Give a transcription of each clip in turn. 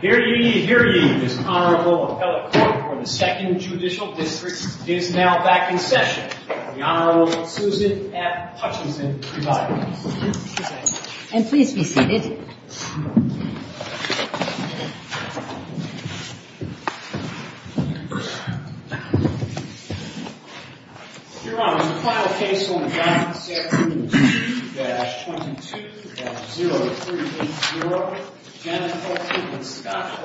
Here he, here he, the Honorable Appellate Court of the 2nd Judicial District, is now back in session. The Honorable Closette F. Hutchinson, presiding. And please be seated. Your Honor, the final case on the count is at 22-22-0380. Your Honor, the final case on the count is at 22-22-0380. Your Honor, the final case on the count is at 22-22-0380. Your Honor, the final case on the count is at 22-22-0380.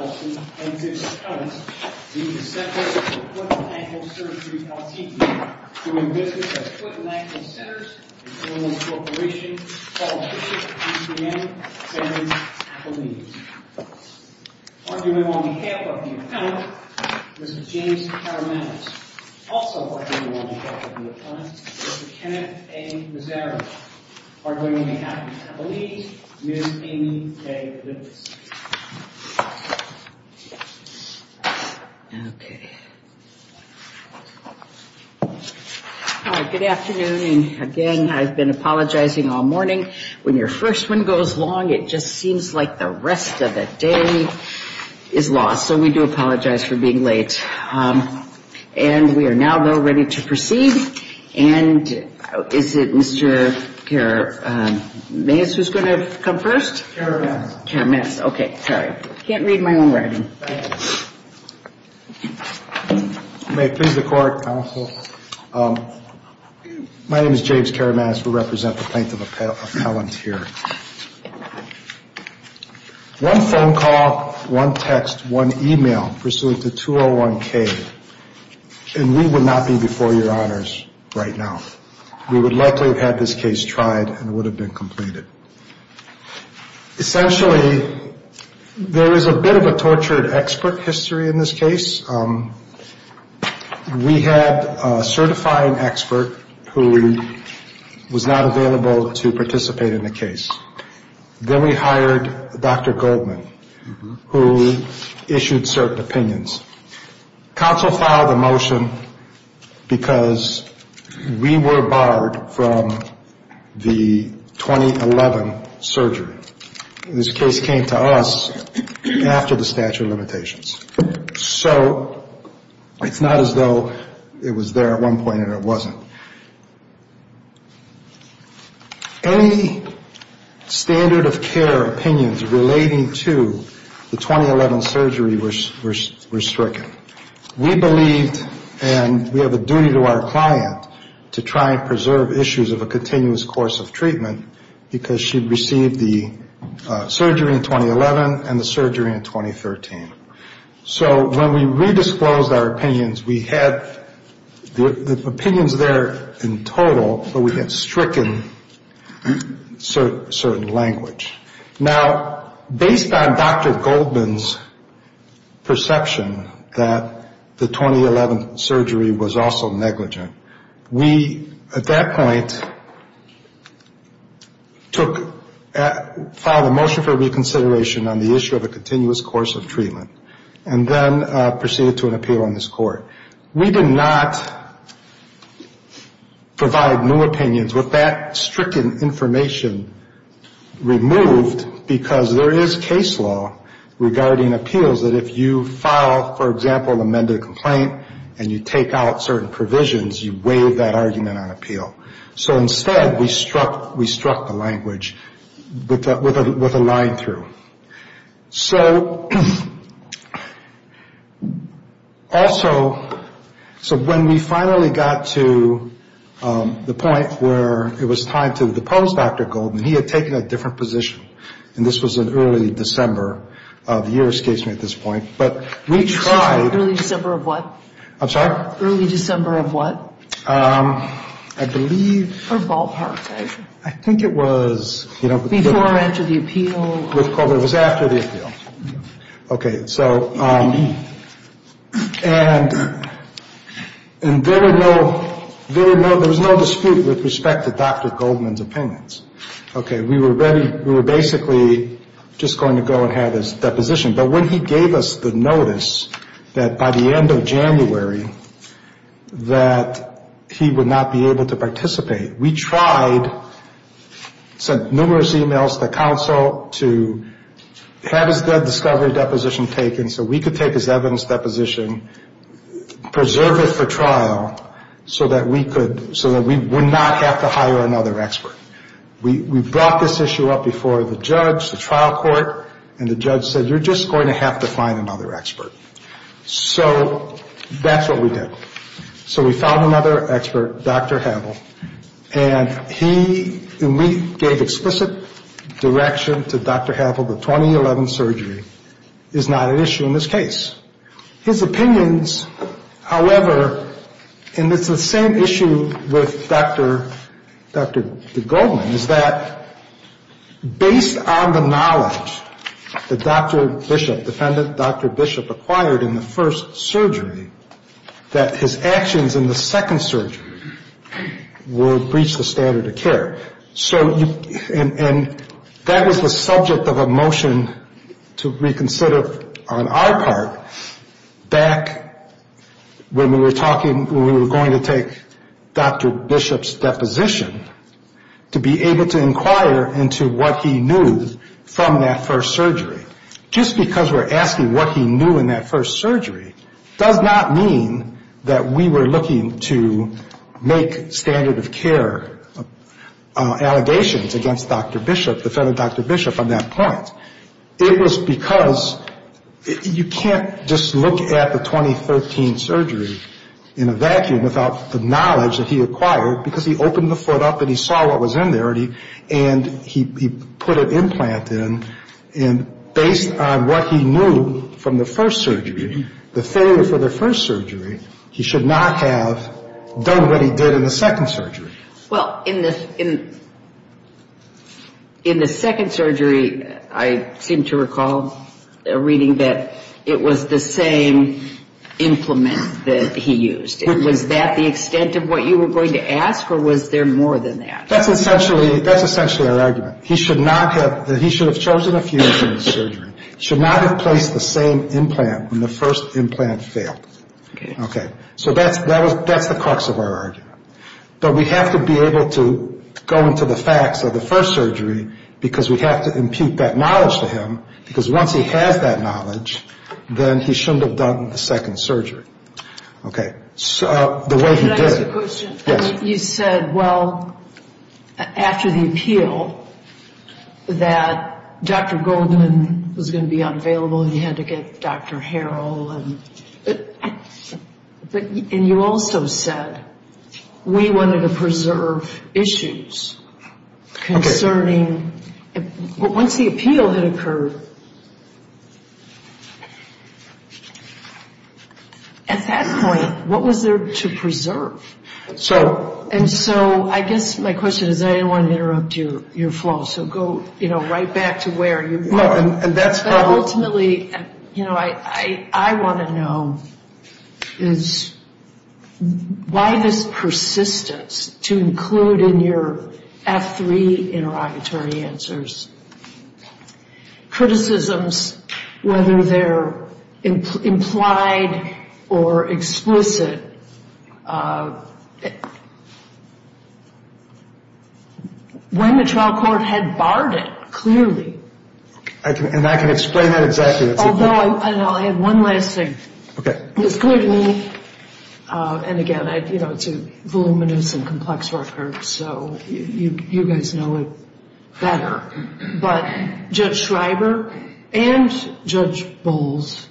And we would not be before your honors right now. We would likely have had this case tried and would have been completed. Essentially, there is a bit of a tortured expert history in this case. We had a certifying expert who was not available to participate in the case. Then we hired Dr. Goldman, who issued cert opinions. Counsel filed a motion because we were barred from the 2011 surgery. This case came to us after the statute of limitations. So, it's not as though it was there at one point and it wasn't. Any standard of care opinions relating to the 2011 surgery were restricted. We believed and we have a duty to our client to try and preserve issues of a continuous course of treatment because she received the surgery in 2011 and the surgery in 2013. So, when we re-disclosed our opinions, we had the opinions there in total, but we had stricken certain language. Now, based on Dr. Goldman's perception that the 2011 surgery was also negligent, we, at that point, filed a motion for reconsideration on the issue of a continuous course of treatment and then proceeded to an appeal in this court. We did not provide new opinions with that stricken information removed because there is case law regarding appeals that if you file, for example, an amended complaint and you take out certain provisions, you waive that argument on appeal. So, instead, we struck the language with a line through. So, when we finally got to the point where it was time to depose Dr. Goldman, he had taken a different position, and this was in early December of your escapement at this point. Sorry, early December of what? I'm sorry? Early December of what? I believe... For ballpark, right? I think it was... Before or after the appeal? It was after the appeal. Okay, so... And there was no dispute with respect to Dr. Goldman's opinions. Okay, we were basically just going to go and have his deposition, but when he gave us the notice that by the end of January that he would not be able to participate, we tried, sent numerous emails to counsel to have his drug discovery deposition taken so we could take his evidence deposition, preserve it for trial, so that we would not have to hire another expert. We brought this issue up before the judge, the trial court, and the judge said, you're just going to have to find another expert. So that's what we did. So we found another expert, Dr. Havel, and he and we gave explicit direction to Dr. Havel that 2011 surgery is not an issue in this case. His opinions, however, and it's the same issue with Dr. Goldman, is that based on the knowledge that Dr. Bishop, defendant Dr. Bishop, acquired in the first surgery, that his actions in the second surgery would breach the standard of care. And that was the subject of a motion to reconsider on our part back when we were going to take Dr. Bishop's deposition to be able to inquire into what he knew from that first surgery. Just because we're asking what he knew in that first surgery does not mean that we were looking to make standard of care allegations against Dr. Bishop, defendant Dr. Bishop, on that point. It was because you can't just look at the 2013 surgery in a vacuum without the knowledge that he acquired because he opened the foot up and he saw what was in there and he put an implant in, and based on what he knew from the first surgery, the failure for the first surgery, he should not have done what he did in the second surgery. Well, in the second surgery, I seem to recall reading that it was the same implant that he used. Was that the extent of what you were going to ask or was there more than that? That's essentially our argument. He should have chosen a few different surgeries. He should not have placed the same implant when the first implant failed. Okay. Okay. So that's the crux of our argument. But we have to be able to go into the facts of the first surgery because we have to impute that knowledge to him because once he had that knowledge, then he shouldn't have done the second surgery. Okay. So the way he did it. Can I ask a question? Yes. You said, well, after the appeal, that Dr. Goldman was going to be unavailable and you had to get Dr. Harrell. And you also said, we wanted to preserve issues concerning, once the appeal had occurred, at that point, what was there to preserve? And so I guess my question is, I didn't want to interrupt your flow, so go right back to where you were. Ultimately, you know, I want to know is why this persistence to include in your F3 interrogatory answers criticisms, whether they're implied or explicit, when the trial court had barred it, clearly. And I can explain that address to you. Although, and I'll add one last thing. Okay. And again, you know, it's a voluminous and complex record, so you guys know it better. But Judge Schreiber and Judge Bowles,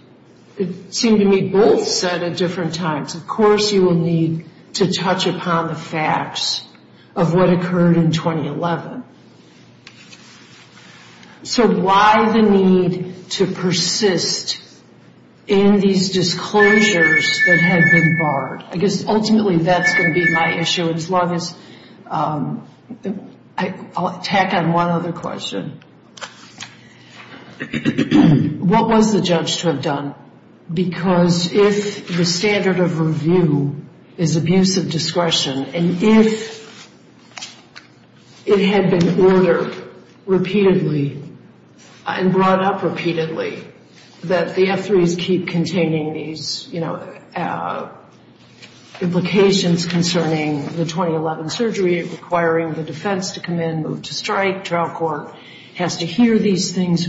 it seemed to me both said at different times, of course you will need to touch upon the facts of what occurred in 2011. So why the need to persist in these disclosures that had been barred? I guess ultimately that's going to be my issue as long as, I'll tack on one other question. What was the judge to have done? Because if the standard of review is abuse of discretion, and if it had been ordered repeatedly and brought up repeatedly, that the F3s keep containing these, you know, implications concerning the 2011 surgery, requiring the defense to come in, move to strike, trial court has to hear these things.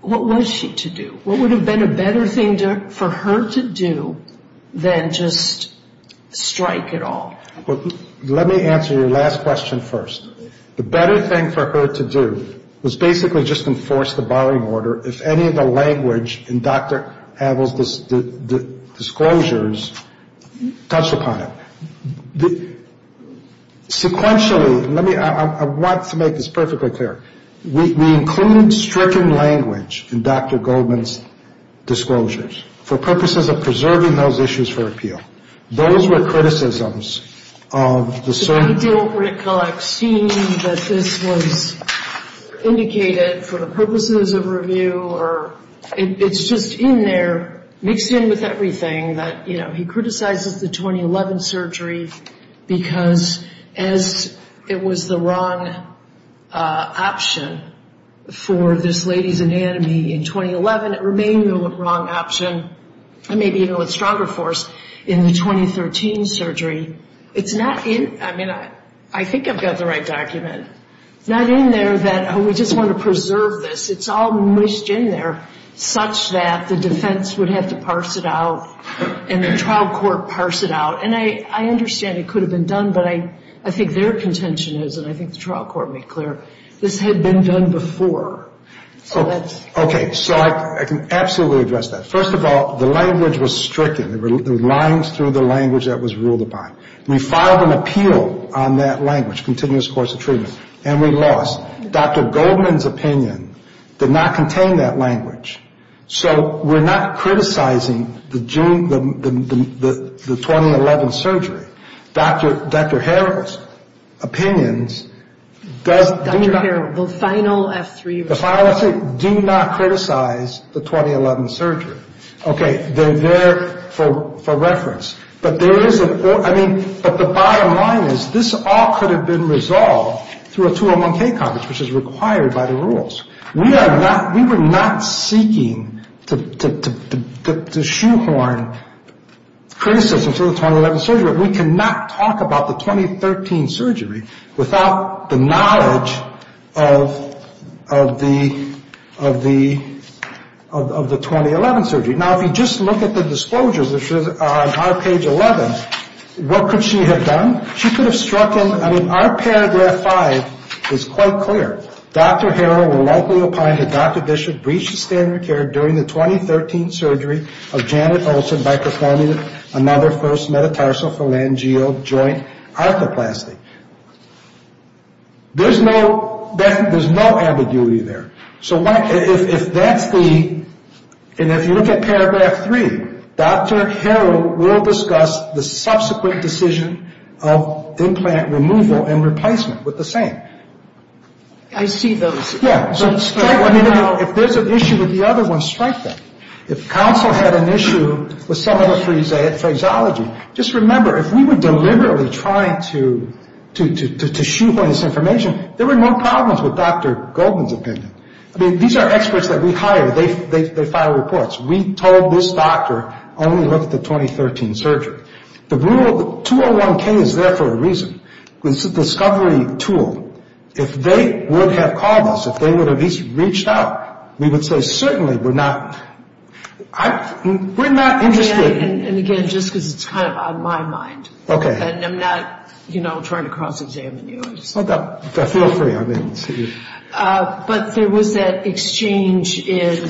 What was she to do? What would have been a better thing for her to do than just strike it off? Let me answer your last question first. The better thing for her to do was basically just enforce the barring order if any of the language in Dr. Adle's disclosures touched upon it. Sequentially, let me, I want to make this perfectly clear. We include stricken language in Dr. Goldman's disclosures for purposes of preserving those issues for appeal. Those were criticisms of the surgery. I feel like seeing that this was indicated for purposes of review, or it's just in there, mixed in with everything that, you know, he criticizes the 2011 surgery because, as it was the wrong option for this lady's anatomy in 2011, it remained the wrong option, and maybe, you know, it's stronger for us in the 2013 surgery. It's not in, I mean, I think I've got the right document. It's not in there that, oh, we just want to preserve this. It's all mixed in there such that the defense would have to parse it out and the trial court parse it out. And I understand it could have been done, but I think their contention is, and I think the trial court would be clear, this had been done before. Okay, so I can absolutely address that. First of all, the language was stricken. There were lines through the language that was ruled upon. We filed an appeal on that language, continuous course of treatment, and we lost. Dr. Goldman's opinion did not contain that language. So we're not criticizing the 2011 surgery. Dr. Harrell's opinions does not. Dr. Harrell, the final F3. The final F3 did not criticize the 2011 surgery. Okay, they're there for reference. But the bottom line is this all could have been resolved through a 201K Congress, which is required by the rules. We were not seeking to shoehorn criticism for the 2011 surgery. We cannot talk about the 2013 surgery without the knowledge of the 2011 surgery. Now, if you just look at the disclosures, which are on page 11, what could she have done? She could have struck them. I mean, our paragraph 5 is quite clear. Dr. Harrell will likely opine that Dr. Bishop breached standard care during the 2013 surgery of Janet Olson by performing another first metatarsophalangeal joint arthroplasty. There's no ambiguity there. So if that's the, and if you look at paragraph 3, Dr. Harrell will discuss the subsequent decision of implant removal and replacement with the same. I see those. Yeah. If there's an issue with the other one, strike that. If counsel had an issue with some of the phraseology, just remember if we were deliberately trying to shoehorn this information, there were no problems with Dr. Goldman's opinion. These are experts that we hired. They file reports. We told this doctor only to look at the 2013 surgery. The rule 201K is there for a reason. It's a discovery tool. If they would have called us, if they would have reached out, we would say certainly we're not interested. And again, just because it's kind of on my mind. Okay. And I'm not, you know, trying to cross-examine you. But there was that exchange in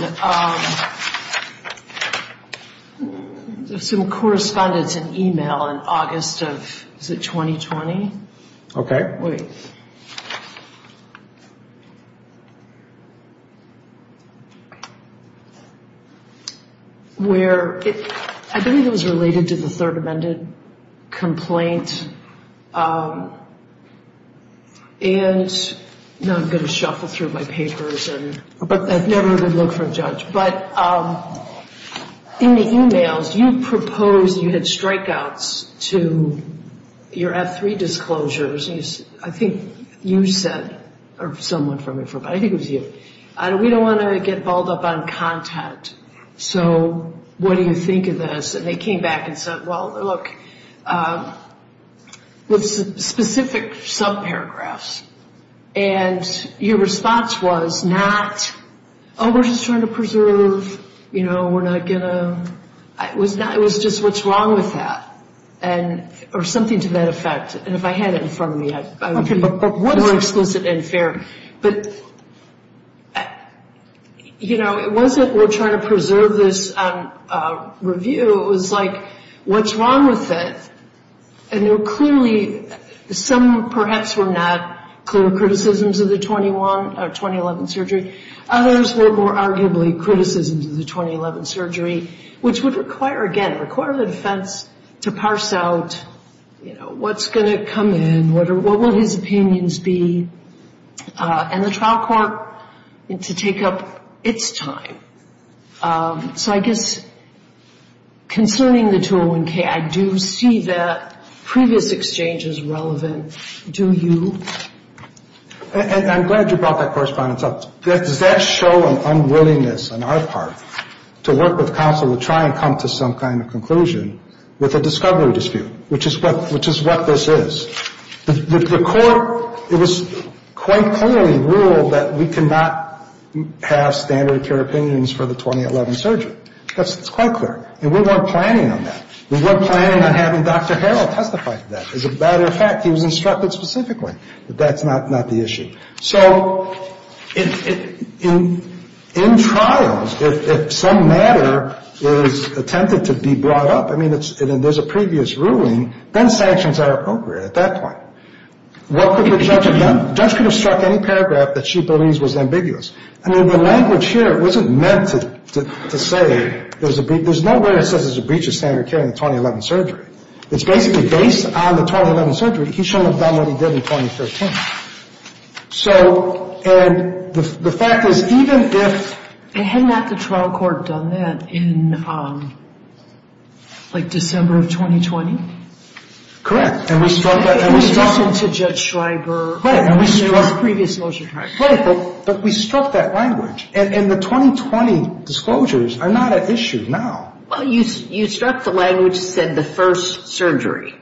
some correspondence and e-mail in August of, is it 2020? Okay. Wait. Where it's, I think it was related to the third amended complaint is, you know, I'm going to shuffle through my papers. But I've never even looked for a judge. But in the e-mails, you proposed you had strikeouts to your F3 disclosures. I think you said, or someone from it, I think it was you, we don't want to get balled up on content. So what do you think of this? And they came back and said, well, look, with specific sub-paragraphs. And your response was not, oh, we're just trying to preserve, you know, we're not going to, it was just what's wrong with that. Or something to that effect. And if I had it in front of me, I would be more exquisite and fair. But, you know, it wasn't we're trying to preserve this review. It was, like, what's wrong with it? And there were clearly, some perhaps were not clear criticisms of the 2011 surgery. Others were more arguably criticisms of the 2011 surgery, which would require, again, require the defense to parse out, you know, what's going to come in, what will his opinions be, and the trial court to take up its time. So I guess concerning the 2011 case, I do see that previous exchange is relevant. Do you? And I'm glad you brought that correspondence up. Does that show an unwillingness on our part to work with counsel to try and come to some kind of conclusion with a discovery dispute, which is what this is? The court, it was quite clearly ruled that we cannot have standard of care opinions for the 2011 surgery. That's quite clear. And we weren't planning on that. We weren't planning on having Dr. Harrell testify to that. As a matter of fact, he was instructed specifically that that's not the issue. So in trials, if some matter is attempted to be brought up, I mean, there's a previous ruling, then sanctions are appropriate at that point. What could the judge have done? The judge could have struck any paragraph that she believes was ambiguous. I mean, the language here wasn't meant to say there's no way it says there's a breach of standard of care in the 2011 surgery. It's basically based on the 2011 surgery, he shouldn't have done what he did in 2013. So, and the fact is, even if... And hadn't that the trial court done that in, like, December of 2020? Correct. And we struck that language. And we struck it to Judge Schweiger. Right, and we struck... In his previous motion. Right, but we struck that language. And the 2020 disclosures are not an issue now. Well, you struck the language that said the first surgery.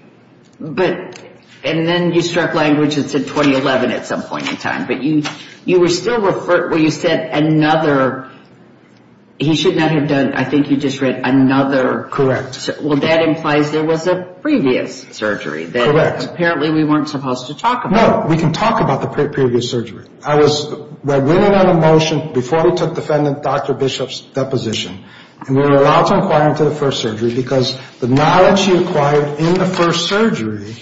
But... And then you struck language that said 2011 at some point in time. But you were still referred... Well, you said another... He should not have done... I think you just read another... Correct. Well, that implies there was a previous surgery. Correct. That apparently we weren't supposed to talk about. No, we can talk about the previous surgery. I was... Before we took defendant Dr. Bishop's deposition. And we were allowed to inquire into the first surgery. Because the knowledge he acquired in the first surgery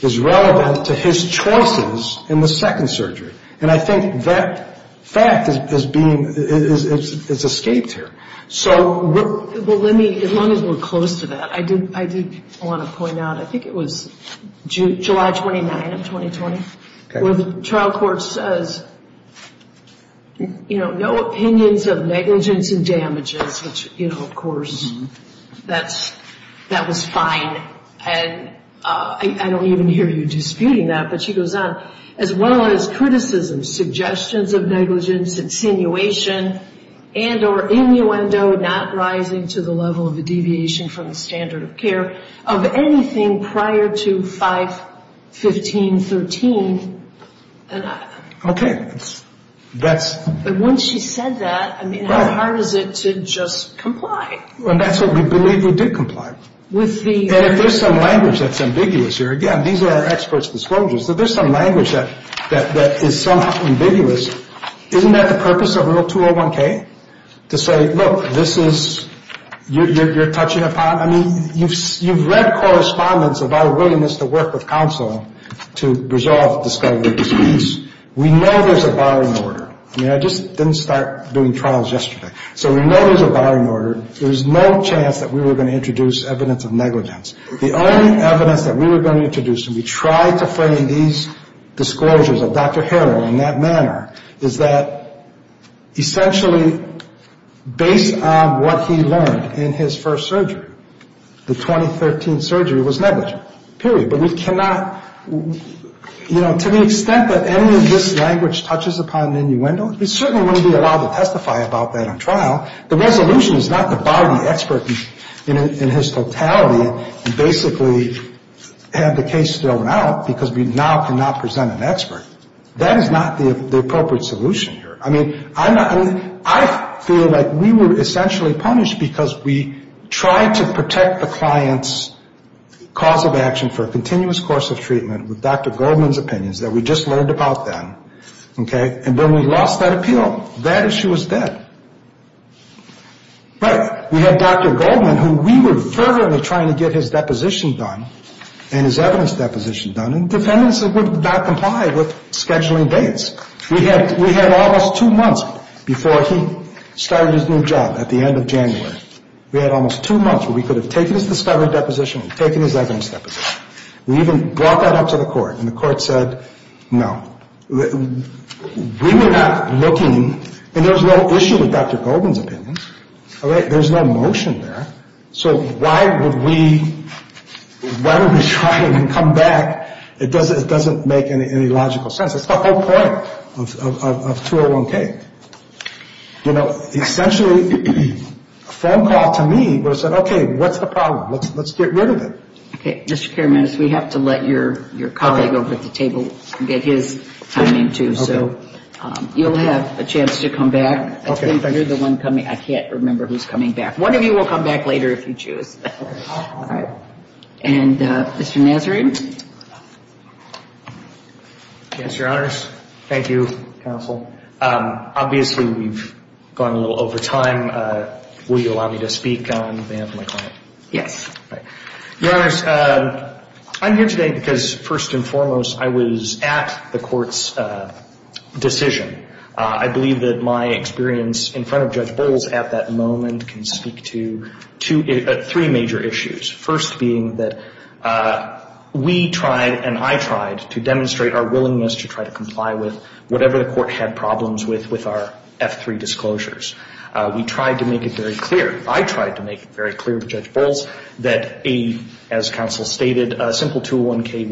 is relevant to his choices in the second surgery. And I think that fact is being... It's escaped him. So... Well, let me... As long as we're close to that. I did want to point out. I think it was July 29th of 2020. When the trial court says, you know, no opinions of negligence and damages. Which, you know, of course, that was fine. And I don't even hear you disputing that. But she goes on. As well as criticisms, suggestions of negligence, attenuation. And or innuendo not rising to the level of the deviation from the standard of care. Of anything prior to 5, 15, 13. Okay. That's... But when she said that, I mean, how hard is it to just comply? Well, that's what we believe we did comply. With the... And there's some language that's ambiguous here. Again, these are our experts' disclosures. But there's some language that is somewhat ambiguous. Isn't that the purpose of Rule 201K? To say, look, this is... You're touching upon... I mean, you've read correspondence of our willingness to work with counsel to resolve this kind of a disease. We know there's a barring order. I mean, I just didn't start doing trials yesterday. So we know there's a barring order. There was no chance that we were going to introduce evidence of negligence. The only evidence that we were going to introduce, and we tried to frame these disclosures of Dr. Harrell in that manner. Is that, essentially, based on what he learned in his first surgery, the 2013 surgery was negligent. Period. But we cannot... You know, to the extent that any of this language touches upon innuendo, we certainly wouldn't be allowed to testify about that on trial. The resolution is not to bar an expert in his totality and basically have the case thrown out because we now cannot present an expert. That is not the appropriate solution here. I mean, I feel like we were essentially punished because we tried to protect the client's cause of action for a continuous course of treatment with Dr. Goldman's opinions that we just learned about then. Okay? And then we lost that appeal. That issue is dead. Right. We had Dr. Goldman, who we were fervently trying to get his deposition done and his evidence deposition done, and defendants would not comply with scheduling dates. We had almost two months before he started his new job at the end of January. We had almost two months where we could have taken his discovery deposition, taken his evidence deposition, and even brought that up to the court, and the court said, no. We were not looking, and there's no issue with Dr. Goldman's opinions. There's no motion there. So why would we try to come back? It doesn't make any logical sense. It's the whole point of 201K. You know, essentially, a phone call to me would have said, okay, what's the problem? Let's get rid of it. Okay. Mr. Paramides, we have to let your colleague over at the table get his time in, too. So you'll have a chance to come back. I think there's one coming. I can't remember who's coming back. One of you will come back later if you choose. All right. And Mr. Nazarian? Yes, Your Honors. Thank you, counsel. Obviously, we've gone a little over time. Will you allow me to speak on behalf of my client? Yes. Your Honors, I'm here today because, first and foremost, I was at the Court's decision. I believe that my experience in front of Judge Bowles at that moment can speak to three major issues, first being that we tried and I tried to demonstrate our willingness to try to comply with whatever the Court had problems with with our F-3 disclosures. We tried to make it very clear. I tried to make it very clear to Judge Bowles that a, as counsel stated, a simple 201K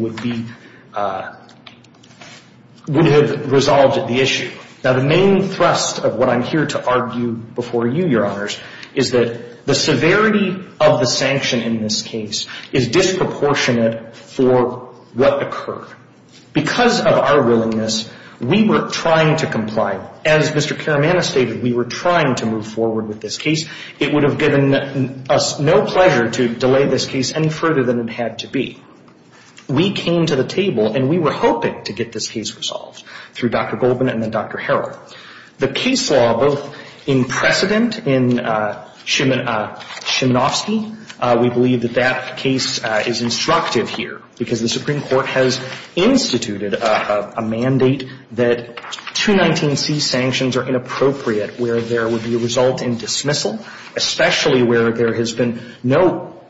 would have resolved the issue. Now, the main thrust of what I'm here to argue before you, Your Honors, is that the severity of the sanction in this case is disproportionate for what occurred. Because of our willingness, we were trying to comply. However, as Mr. Karamanis stated, we were trying to move forward with this case. It would have given us no pleasure to delay this case any further than it had to be. We came to the table, and we were hoping to get this case resolved through Dr. Goldman and then Dr. Harrell. The case law, both in precedent in Shimonovsky, we believe that that case is instructive here because the Supreme Court has instituted a mandate that 219C sanctions are inappropriate where there would be a result in dismissal, especially where there has been no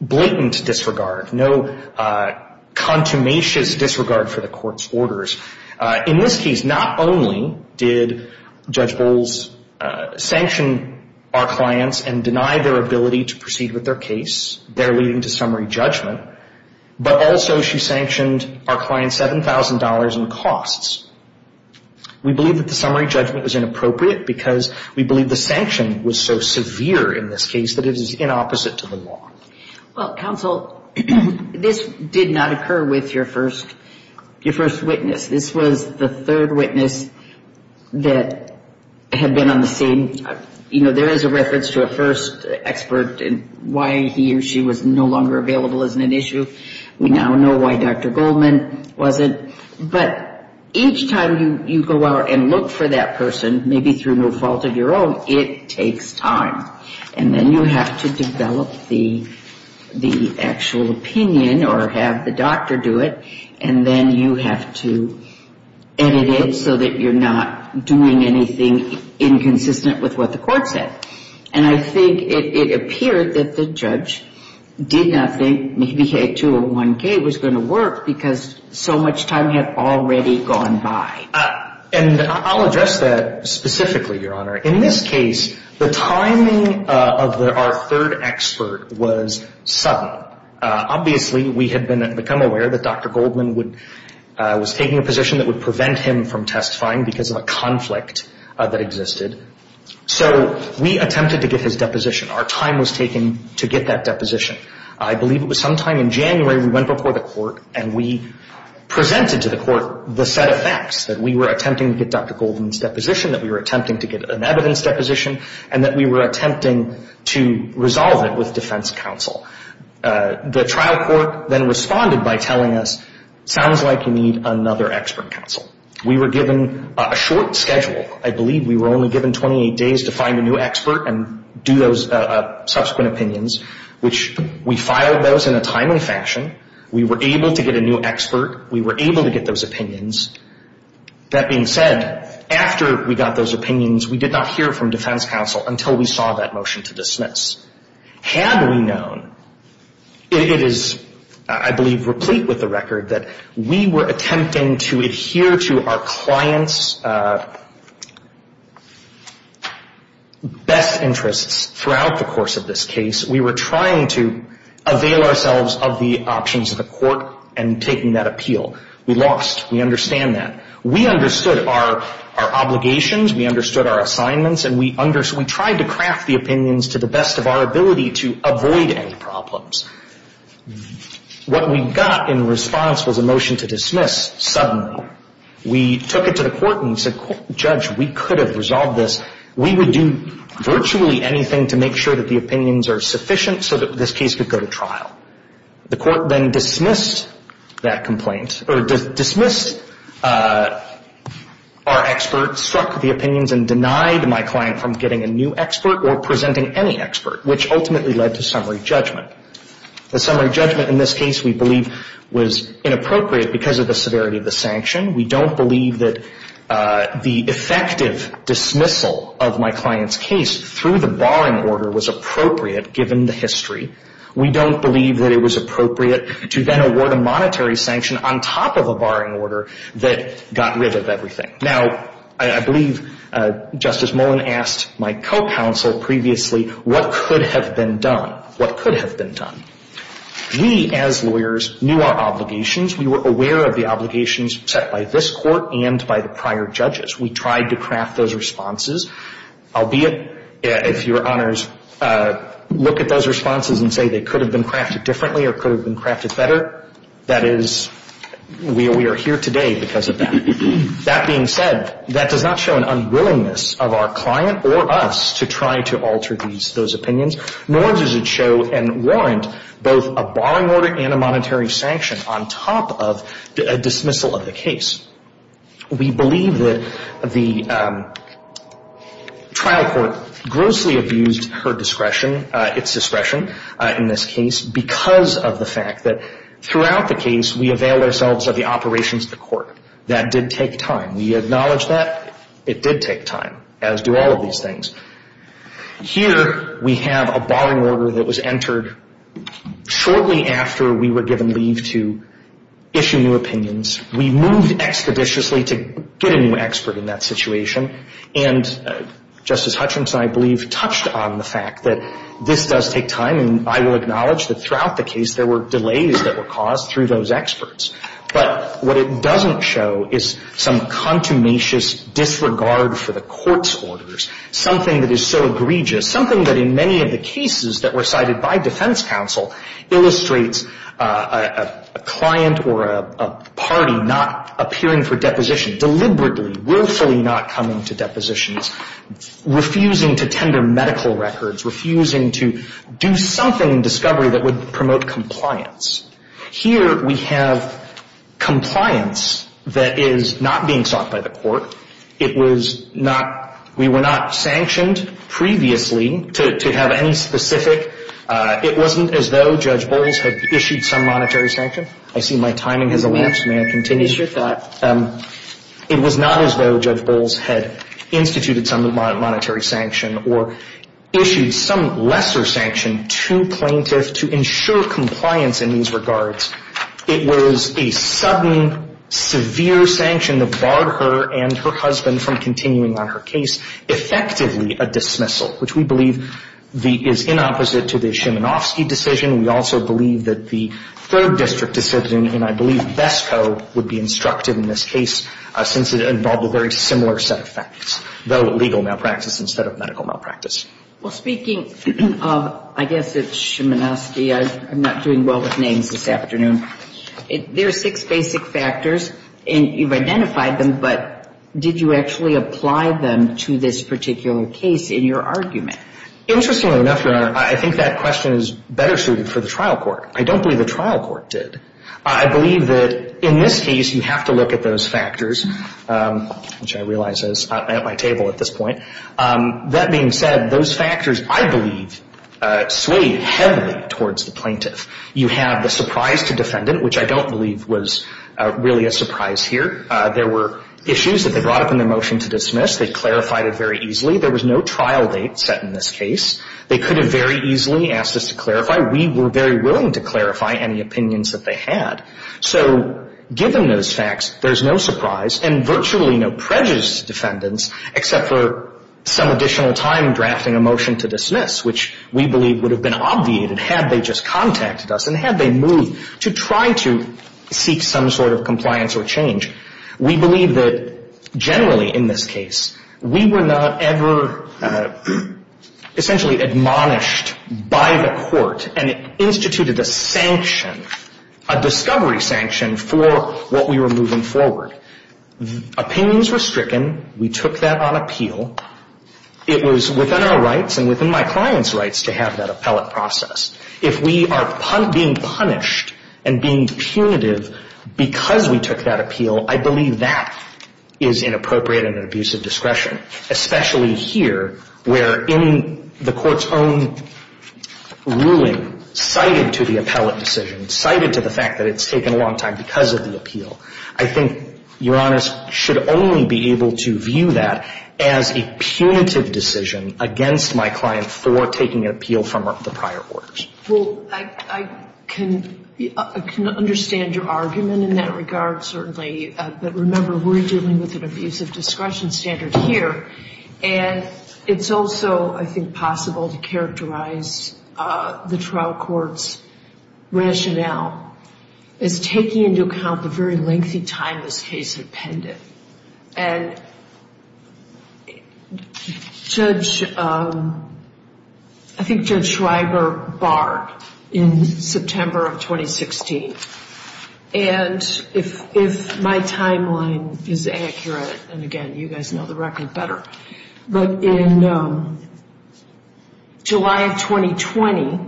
blatant disregard, no contumacious disregard for the Court's orders. In this case, not only did Judge Bowles sanction our clients and deny their ability to proceed with their case, their leading to summary judgment, but also she sanctioned our clients $7,000 in costs. We believe that the summary judgment was inappropriate because we believe the sanction was so severe in this case that it is inopposite to the law. Counsel, this did not occur with your first witness. This was the third witness that had been on the scene. There is a reference to a first expert and why he or she was no longer available as an issue. We now know why Dr. Goldman wasn't. But each time you go out and look for that person, maybe through no fault of your own, it takes time. And then you have to develop the actual opinion or have the doctor do it, and then you have to edit it so that you're not doing anything inconsistent with what the Court said. And I think it appeared that the judge did not think that 201K was going to work because so much time had already gone by. In this case, the timing of our third expert was sudden. Obviously, we had become aware that Dr. Goldman was taking a position that would prevent him from testifying because of a conflict that existed. So we attempted to get his deposition. Our time was taken to get that deposition. I believe it was sometime in January we went before the Court and we presented to the Court the set of facts that we were attempting to get Dr. Goldman's deposition, that we were attempting to get an evidence deposition, and that we were attempting to resolve it with defense counsel. The trial court then responded by telling us, it sounds like you need another expert counsel. We were given a short schedule. I believe we were only given 28 days to find a new expert and do those subsequent opinions, which we filed those in a timely fashion. We were able to get a new expert. We were able to get those opinions. That being said, after we got those opinions, we did not hear from defense counsel until we saw that motion to dismiss. Had we known, it is, I believe, replete with the record, that we were attempting to adhere to our client's best interests throughout the course of this case. We were trying to avail ourselves of the options of the Court and taking that appeal. We lost. We understand that. We understood our obligations, we understood our assignments, and we tried to craft the opinions to the best of our ability to avoid any problems. What we got in response was a motion to dismiss suddenly. We took it to the Court and said, Judge, we could have resolved this. We would do virtually anything to make sure that the opinions are sufficient so that this case could go to trial. The Court then dismissed our experts, struck the opinions, and denied my client from getting a new expert or presenting any expert, which ultimately led to summary judgment. The summary judgment in this case, we believe, was inappropriate because of the severity of the sanction. We don't believe that the effective dismissal of my client's case through the barring order was appropriate given the history. We don't believe that it was appropriate to then award a monetary sanction on top of a barring order that got rid of everything. Now, I believe Justice Mullen asked my co-counsel previously, what could have been done? What could have been done? We, as lawyers, knew our obligations. We were aware of the obligations set by this Court and by the prior judges. We tried to craft those responses, albeit, if your honors look at those responses, and say they could have been crafted differently or could have been crafted better. That is, we are here today because of that. That being said, that does not show an unwillingness of our client or us to try to alter those opinions, nor does it show and warrant both a barring order and a monetary sanction on top of a dismissal of the case. We believe that the trial court grossly abused its discretion in this case because of the fact that throughout the case we availed ourselves of the operations of the court. That did take time. We acknowledge that. It did take time, as do all of these things. Here, we have a barring order that was entered shortly after we were given leave to issue new opinions. We moved expeditiously to get a new expert in that situation. And Justice Hutchinson, I believe, touched on the fact that this does take time, and I will acknowledge that throughout the case there were delays that were caused through those experts. But what it doesn't show is some contumacious disregard for the Court's orders, something that is so egregious, something that in many of the cases that were cited by defense counsel illustrates a client or a party not appearing for depositions, deliberately, willfully not coming to depositions, refusing to tender medical records, refusing to do something in discovery that would promote compliance. Here, we have compliance that is not being sought by the court. It was not, we were not sanctioned previously, to have any specific, it wasn't as though Judge Bowles had issued some monetary sanction. I see my timing has elapsed, may I continue? It is your thought. It was not as though Judge Bowles had instituted some monetary sanction or issued some lesser sanction to plaintiffs to ensure compliance in these regards. It was a sudden, severe sanction that barred her and her husband from continuing on her case, effectively a dismissal, which we believe is inopposite to the Szymanowski decision. We also believe that the third district decision, and I believe BESCO, would be instructive in this case since it involved a very similar set of facts, though legal malpractice instead of medical malpractice. Well, speaking of, I guess it's Szymanowski, I'm not doing well with names this afternoon. There are six basic factors, and you've identified them, but did you actually apply them to this particular case in your argument? Interestingly enough, Your Honor, I think that question is better suited for the trial court. I don't believe the trial court did. I believe that in this case, you have to look at those factors, which I realize is not at my table at this point. That being said, those factors, I believe, swayed heavily towards the plaintiff. You have the surprise to defendant, which I don't believe was really a surprise here. There were issues that they brought up in the motion to dismiss. They clarified it very easily. There was no trial date set in this case. They could have very easily asked us to clarify. We were very willing to clarify any opinions that they had. So given those facts, there's no surprise and virtually no prejudice to defendants except for some additional time in drafting a motion to dismiss, which we believe would have been obvious had they just contacted us and had they moved to try to seek some sort of compliance or change. We believe that generally in this case, we were not ever essentially admonished by the court and instituted a sanction, a discovery sanction, for what we were moving forward. Opinions were stricken. We took that on appeal. It was within our rights and within my client's rights to have that appellate process. If we are being punished and being punitive because we took that appeal, I believe that is inappropriate and an abuse of discretion, especially here where the court's own ruling cited to the appellate decision, cited to the fact that it's taken a long time because of the appeal. I think your Honor should only be able to view that as a punitive decision against my client for taking an appeal from the prior court. Well, I can understand your argument in that regard, certainly. But remember, we're dealing with an abuse of discretion standard here. And it's also, I think, possible to characterize the trial court's rationale. It's taking into account the very lengthy time this case appended. And Judge, I think Judge Schreiber barred in September of 2016. And if my timeline is accurate, and again, you guys know the record better, but in July of 2020,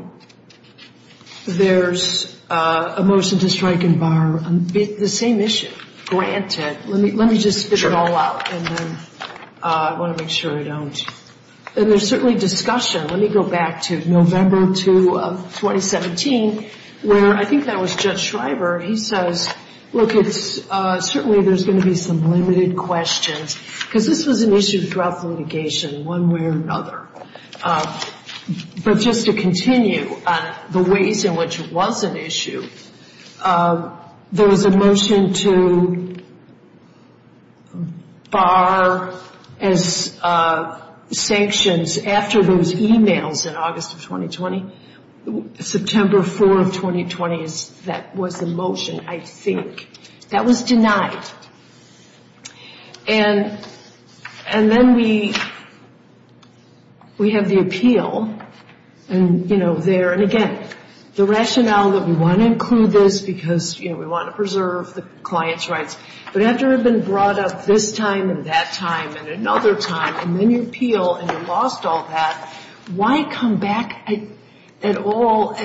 there's a motion to strike and bar the same issue. Granted, let me just stick it all out. I want to make sure I don't. And there's certainly discussion. Let me go back to November 2 of 2017 where I think that was Judge Schreiber. He says, look, certainly there's going to be some limited questions because this is an issue of drug litigation one way or another. But just to continue, the ways in which it was an issue, there was a motion to bar sanctions after those emails in August of 2020. September 4 of 2020, that was the motion, I think. That was denied. And then we had the appeal. And, you know, there, and again, the rationale that we want to include this because we want to preserve the client's rights, but after it had been brought up this time and that time and another time, and then the appeal, and we lost all that, why come back at all?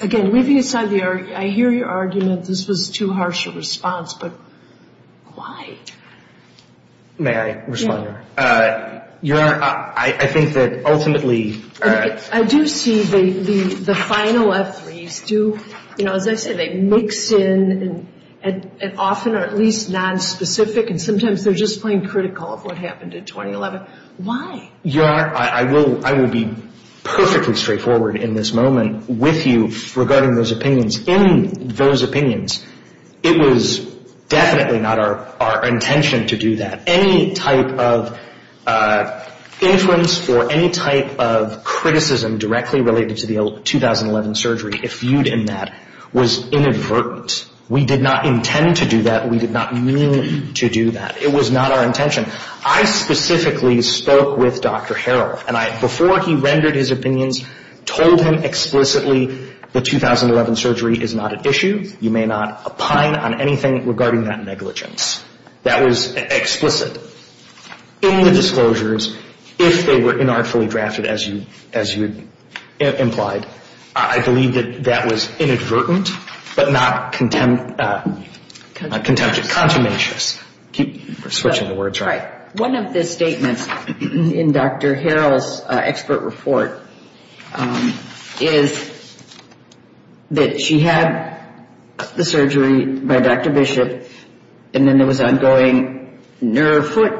Again, leaving aside the argument, I hear your argument that this was too harsh of a response, but why? May I respond? Yes. Your Honor, I think that ultimately – I do see the final athletes do, you know, they mix in and often are at least nonspecific, and sometimes they're just plain critical of what happened in 2011. Why? Your Honor, I will be perfectly straightforward in this moment with you regarding those opinions. In those opinions, it was definitely not our intention to do that. Any type of influence or any type of criticism directly related to the 2011 surgery, if you did that, was inadvertent. We did not intend to do that. We did not mean to do that. It was not our intention. We told him explicitly the 2011 surgery is not an issue. You may not opine on anything regarding that negligence. That was explicit. In the disclosures, if they were inartfully drafted, as you implied, I believe that that was inadvertent, but not contempt of consummation. We're switching the words, right? One of the statements in Dr. Harrell's expert report is that she had the surgery by Dr. Bishop, and then there was ongoing nerve foot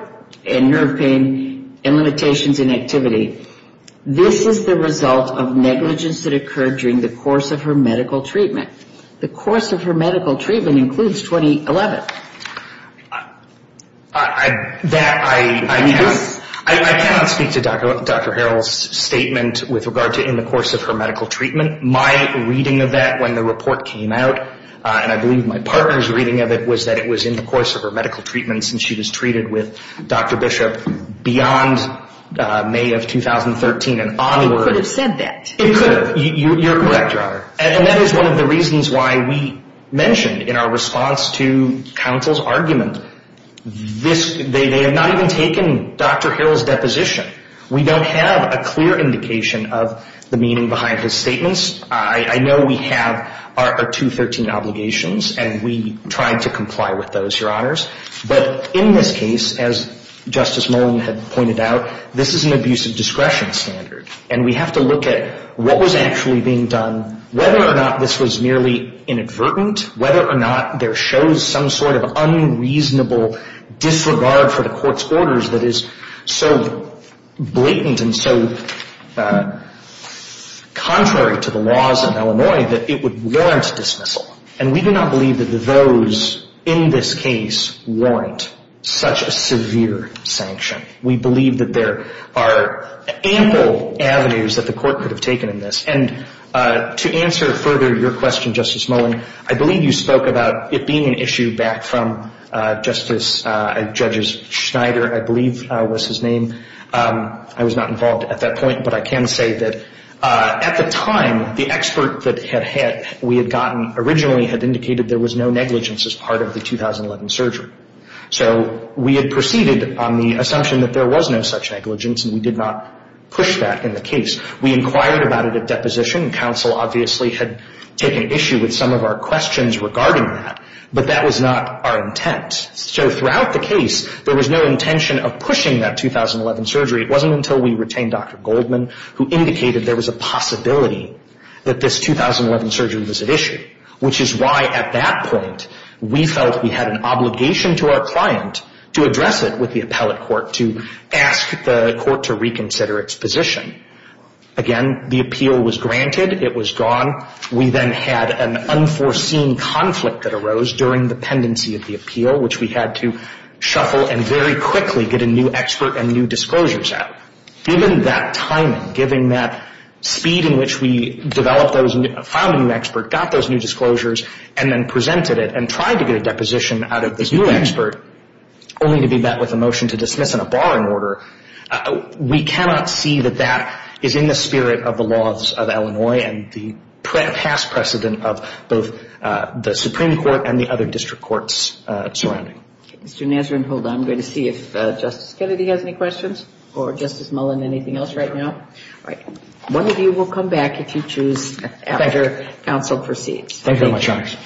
and nerve pain and limitations in activity. This is the result of negligence that occurred during the course of her medical treatment. The course of her medical treatment includes 2011. I cannot speak to Dr. Harrell's statement with regard to in the course of her medical treatment. My reading of that when the report came out, and I believe my partner's reading of it was that it was in the course of her medical treatment since she was treated with Dr. Bishop beyond May of 2013 and onward. Who said that? You're correct, Dr. Harrell. And that is one of the reasons why we mentioned in our response to counsel's argument, they have not even taken Dr. Harrell's deposition. We don't have a clear indication of the meaning behind his statements. I know we have our 213 obligations, and we try to comply with those, Your Honors. But in this case, as Justice Molan had pointed out, this is an abuse of discretion standard, and we have to look at what was actually being done, whether or not this was merely inadvertent, whether or not there shows some sort of unreasonable disregard for the court's orders that is so blatant and so contrary to the laws of Illinois that it would warrant dismissal. And we do not believe that those in this case warrant such a severe sanction. We believe that there are ample avenues that the court could have taken in this. And to answer further your question, Justice Molan, I believe you spoke about it being an issue that from Justice Schneider, I believe was his name. I was not involved at that point, but I can say that at the time, the expert that we had gotten originally had indicated there was no negligence as part of the 2011 surgery. So we had proceeded on the assumption that there was no such negligence, and we did not push back in the case. We inquired about it at deposition, and counsel obviously had taken issue with some of our questions regarding that, but that was not our intent. So throughout the case, there was no intention of pushing that 2011 surgery. It wasn't until we retained Dr. Goldman, who indicated there was a possibility that this 2011 surgery was at issue, which is why at that point we felt we had an obligation to our client to address it with the appellate court, to ask the court to reconsider its position. Again, the appeal was granted. It was drawn. We then had an unforeseen conflict that arose during the pendency of the appeal, which we had to shuffle and very quickly get a new expert and new disclosures out. Given that timing, given that speed in which we developed those, found a new expert, got those new disclosures, and then presented it and tried to get a deposition out of this new expert only to be met with a motion to dismiss and a barring order, we cannot see that that is in the spirit of the laws of Illinois and the past precedent of both the Supreme Court and the other district courts surrounding it. Mr. Nasrin, hold on. I'm going to see if Justice Kennedy has any questions or Justice Mullen anything else right now. Right. One of you will come back if you choose as your counsel proceeds. Thank you very much, Alex.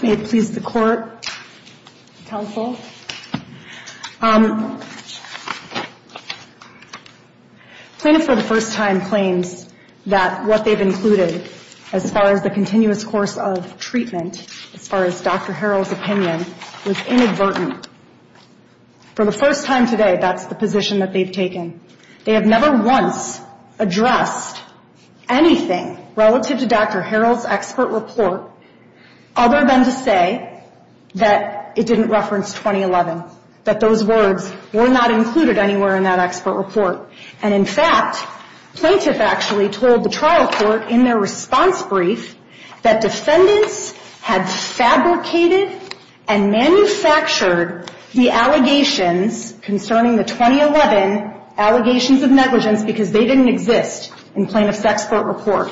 May it please the court, counsel. Thank you. Plaintiffs for the first time claimed that what they've included as far as the continuous course of treatment, as far as Dr. Harrell's opinion, was inadvertent. For the first time today, that's the position that they've taken. They have never once addressed anything relative to Dr. Harrell's expert report other than to say that it didn't reference 2011, that those words were not included anywhere in that expert report. And, in fact, plaintiffs actually told the trial court in their response brief that defendants had fabricated and manufactured the allegations concerning the 2011 allegations of negligence because they didn't exist in plaintiff's expert report.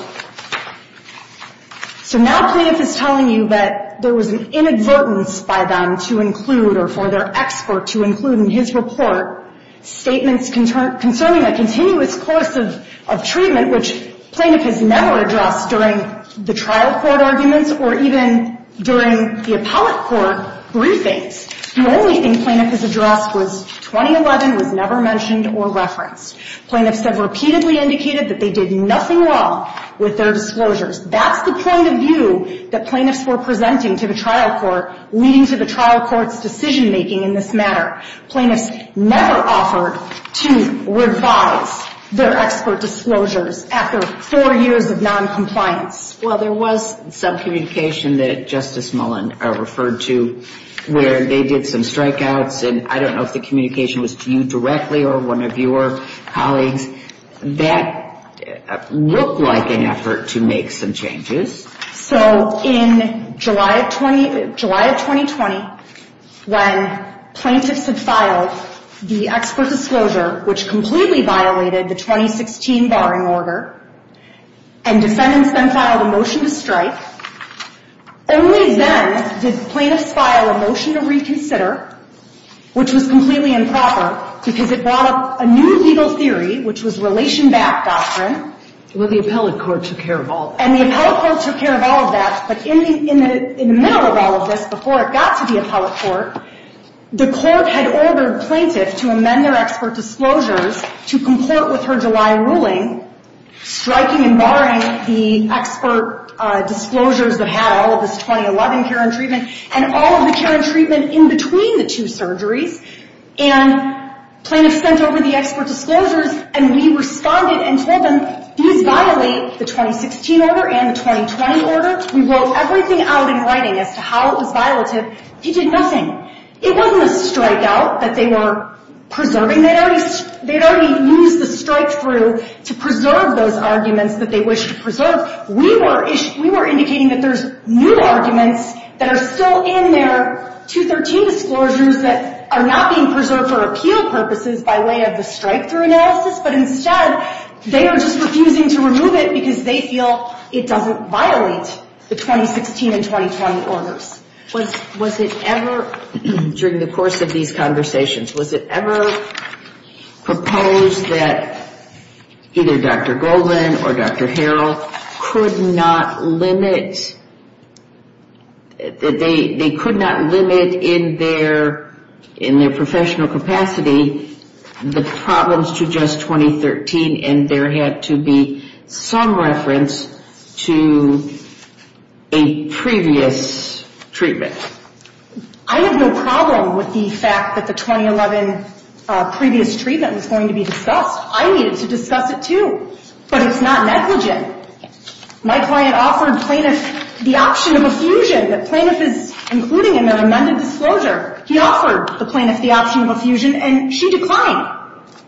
So now plaintiffs are telling you that there was an inadvertence by them to include or for their expert to include in his report statements concerning the continuous course of treatment, which plaintiffs never addressed during the trial court arguments or even during the appellate court briefing. The only thing plaintiffs addressed was 2011 was never mentioned or referenced. Plaintiffs have repeatedly indicated that they did nothing wrong with their disclosures. That's the point of view that plaintiffs were presenting to the trial court, leading to the trial court's decision-making in this matter. Plaintiffs never offered to revise their expert disclosures after four years of noncompliance. Well, there was some communication that Justice Mullen referred to where they did some strikeouts, and I don't know if the communication was to you directly or one of your colleagues. That looked like an effort to make some changes. So, in July of 2020, when plaintiffs had filed the expert disclosure, which completely violated the 2016 barring order, and defendants then filed a motion to strike, only then did plaintiffs file a motion to reconsider, which was completely improper because it brought up a new legal theory, which was relation-backed doctrine. And the appellate court took care of all of that. And the appellate court took care of all of that, but in the middle of all of this, before it got to the appellate court, the court had ordered plaintiffs to amend their expert disclosures to comport with her July ruling, striking and barring the expert disclosures that had all of this 2011 care and treatment, and all of the care and treatment in between the two surgeries. And plaintiffs sent over the expert disclosures, and we responded and told them, you violate the 2016 order and the 2020 order. We wrote everything out in writing as to how it was violative. You did nothing. It wasn't a strike-out that they were preserving. They had already used the strike-through to preserve those arguments that they wished to preserve. We were indicating that there's new arguments that are still in there, 213 disclosures that are not being preserved for appeal purposes by way of the strike-through analysis, but instead they are just refusing to remove it because they feel it doesn't violate the 2016 and 2020 orders. Was it ever, during the course of these conversations, was it ever proposed that either Dr. Goldman or Dr. Harrell could not limit, they could not limit in their professional capacity the problems to just 2013, and there had to be some reference to a previous treatment? I have no problem with the fact that the 2011 previous treatment was going to be discussed. I needed to discuss it, too. But it's not negligent. My client offered plaintiffs the option of a fusion, that plaintiffs, including in their amended disclosure, he offered the plaintiffs the option of a fusion, and she declined.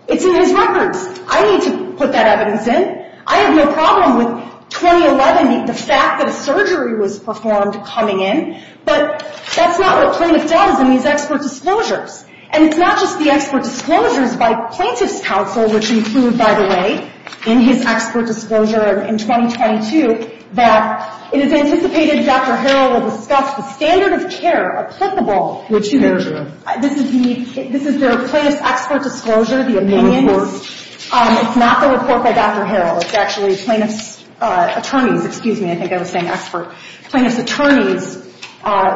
It's in his records. I need to put that evidence in. I have no problem with 2011, the fact that a surgery was performed coming in, but that's not what plaintiffs got in these expert disclosures. And it's not just the expert disclosures by plaintiffs' counsel, which we proved, by the way, in his expert disclosure in 2022, that it is anticipated Dr. Harrell will discuss the standard of care accessible, This is their plaintiff expert disclosure, the opinion. It's not the report by Dr. Harrell. It's actually a plaintiff's attorney. Excuse me. I think I was saying expert. Plaintiff's attorney,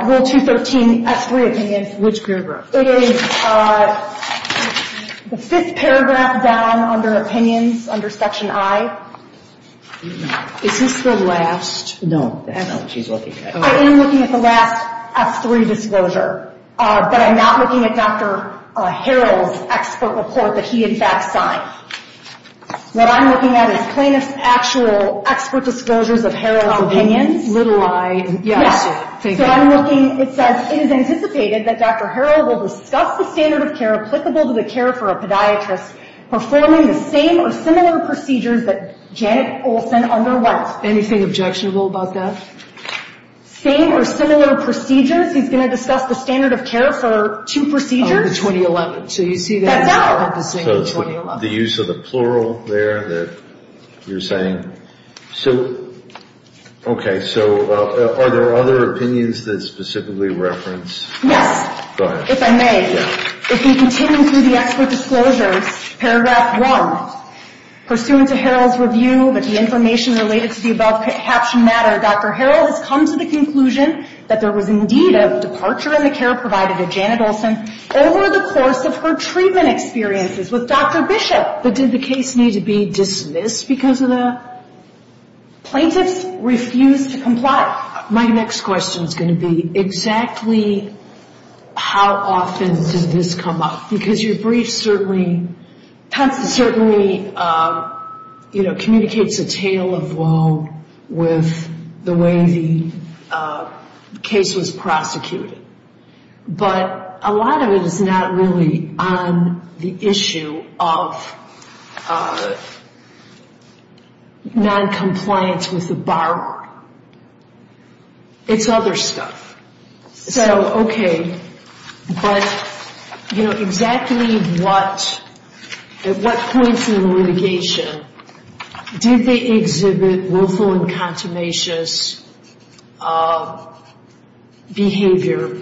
Rule 213, S3 opinion. Which paragraph? It is the fifth paragraph down under opinions, under Section I. Is this the last? No. I know what she's looking at. I am looking at the last S3 disclosure, but I'm not looking at Dr. Harrell's expert report that he, in fact, signed. What I'm looking at is plaintiff's actual expert disclosures of Harrell's opinion. Little I. Yes. But I'm looking, it says, it is anticipated that Dr. Harrell will discuss the standard of care applicable to the care for a podiatrist performing the same or similar procedures that Janet Olson underwent. Anything objectionable about that? Same or similar procedures. He's going to discuss the standard of care for two procedures in 2011. So you see that? No. So it's the use of the plural there that you're saying? So, okay. So are there other opinions that specifically reference? No. Go ahead. If I may. Yes. If you continue through the expert disclosure, paragraph one, Pursuant to Harrell's review, the information related to the above-captioned matter, Dr. Harrell has come to the conclusion that there was indeed a departure in the care provided to Janet Olson over the course of her treatment experiences with Dr. Bishop. So did the case need to be dismissed because of that? Plaintiff refused to comply. My next question is going to be exactly how often does this come up? Because your brief certainly communicates a tale of woe with the way the case was prosecuted. But a lot of it is not really on the issue of noncompliance with the borrower. It's other stuff. So, okay. But, you know, exactly at what point through litigation did they exhibit willful and consummationist behavior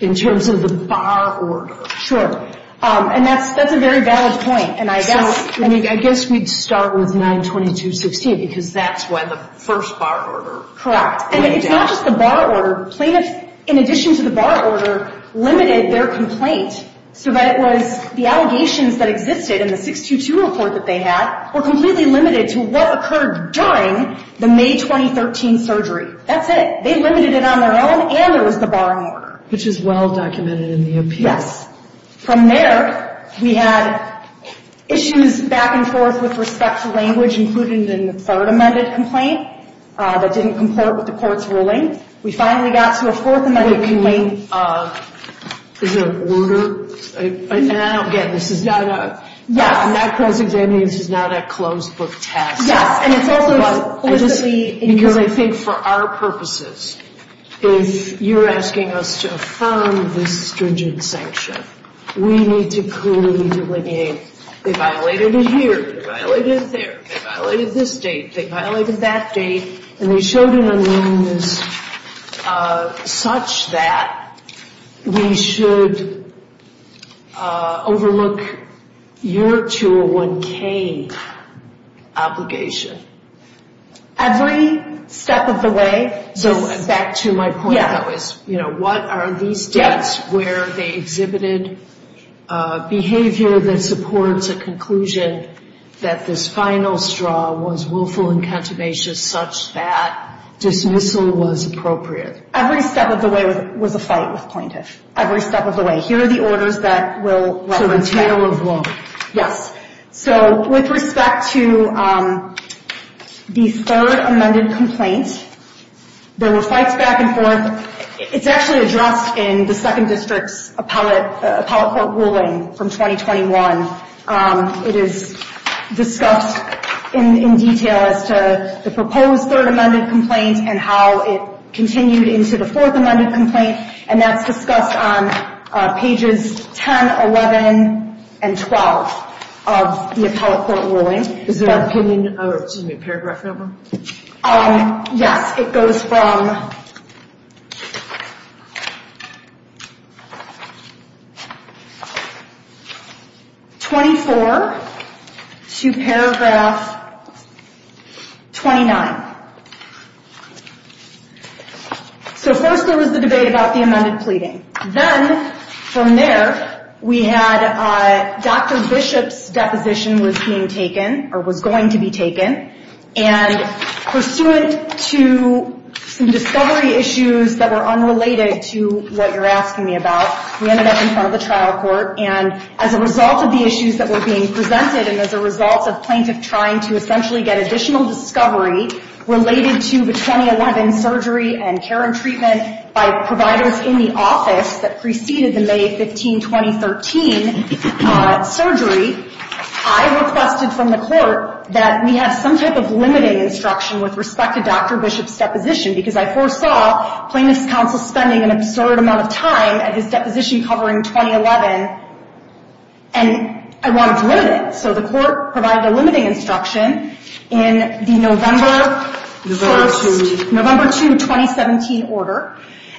in terms of the bar order? Sure. And that's a very valid point. And I guess we'd start with 922.15 because that's why the first bar order. Correct. And it's not just the bar order. Plaintiffs, in addition to the bar order, limited their complaint so that it was the allegations that existed in the 622 report that they had were completely limited to what occurred during the May 2013 surgery. That's it. They limited it on their own and it was the bar order. Which is well documented in the appeal. Yes. From there, we had issues back and forth with respect to language, including the third amended complaint that didn't comply with the court's ruling. We finally got to a fourth amended complaint. Is it an order? And I don't get this. It's not a closed book test. Yes. And it's also, I think, for our purposes, you're asking us to affirm the stringent sanction. We need to clearly delineate they violated here, they violated there, they violated this date, they violated that date. And we showed an amendment such that we should overlook your 201K obligation. Every step of the way? Back to my point, you know, what are these depths where they exhibited behavior that supports a conclusion that this final straw was willful and captivate such that dismissal was appropriate? Every step of the way was a fight with plaintiffs. Every step of the way. Here are the orders that will let us know. So in terms of what? Yes. So with respect to the third amended complaint, there were fights back and forth. It's actually addressed in the second district appellate court ruling from 2021. It is discussed in detail as to the proposed third amended complaint and how it continued into the fourth amended complaint. And that's discussed on pages 10, 11, and 12 of the appellate court ruling. Is there a paragraph in that one? Yes. It goes from 24 to paragraph 29. So first there was a debate about the amended pleading. Then from there we had Dr. Bishop's deposition was being taken or was going to be taken. And pursuant to some discovery issues that were unrelated to what you're asking me about, we ended up in front of the trial court. And as a result of the issues that were being presented and as a result of plaintiffs trying to essentially get additional discovery related to the 2011 surgery and care and treatment by providers in the office that preceded the May 15, 2013 surgery, I requested from the court that we have some type of limiting instruction with respect to Dr. Bishop's deposition because I foresaw plaintiff's counsel spending an absurd amount of time at his deposition covering 2011 and I wanted to limit it. So the court provided a limiting instruction in the November 2, 2017 order.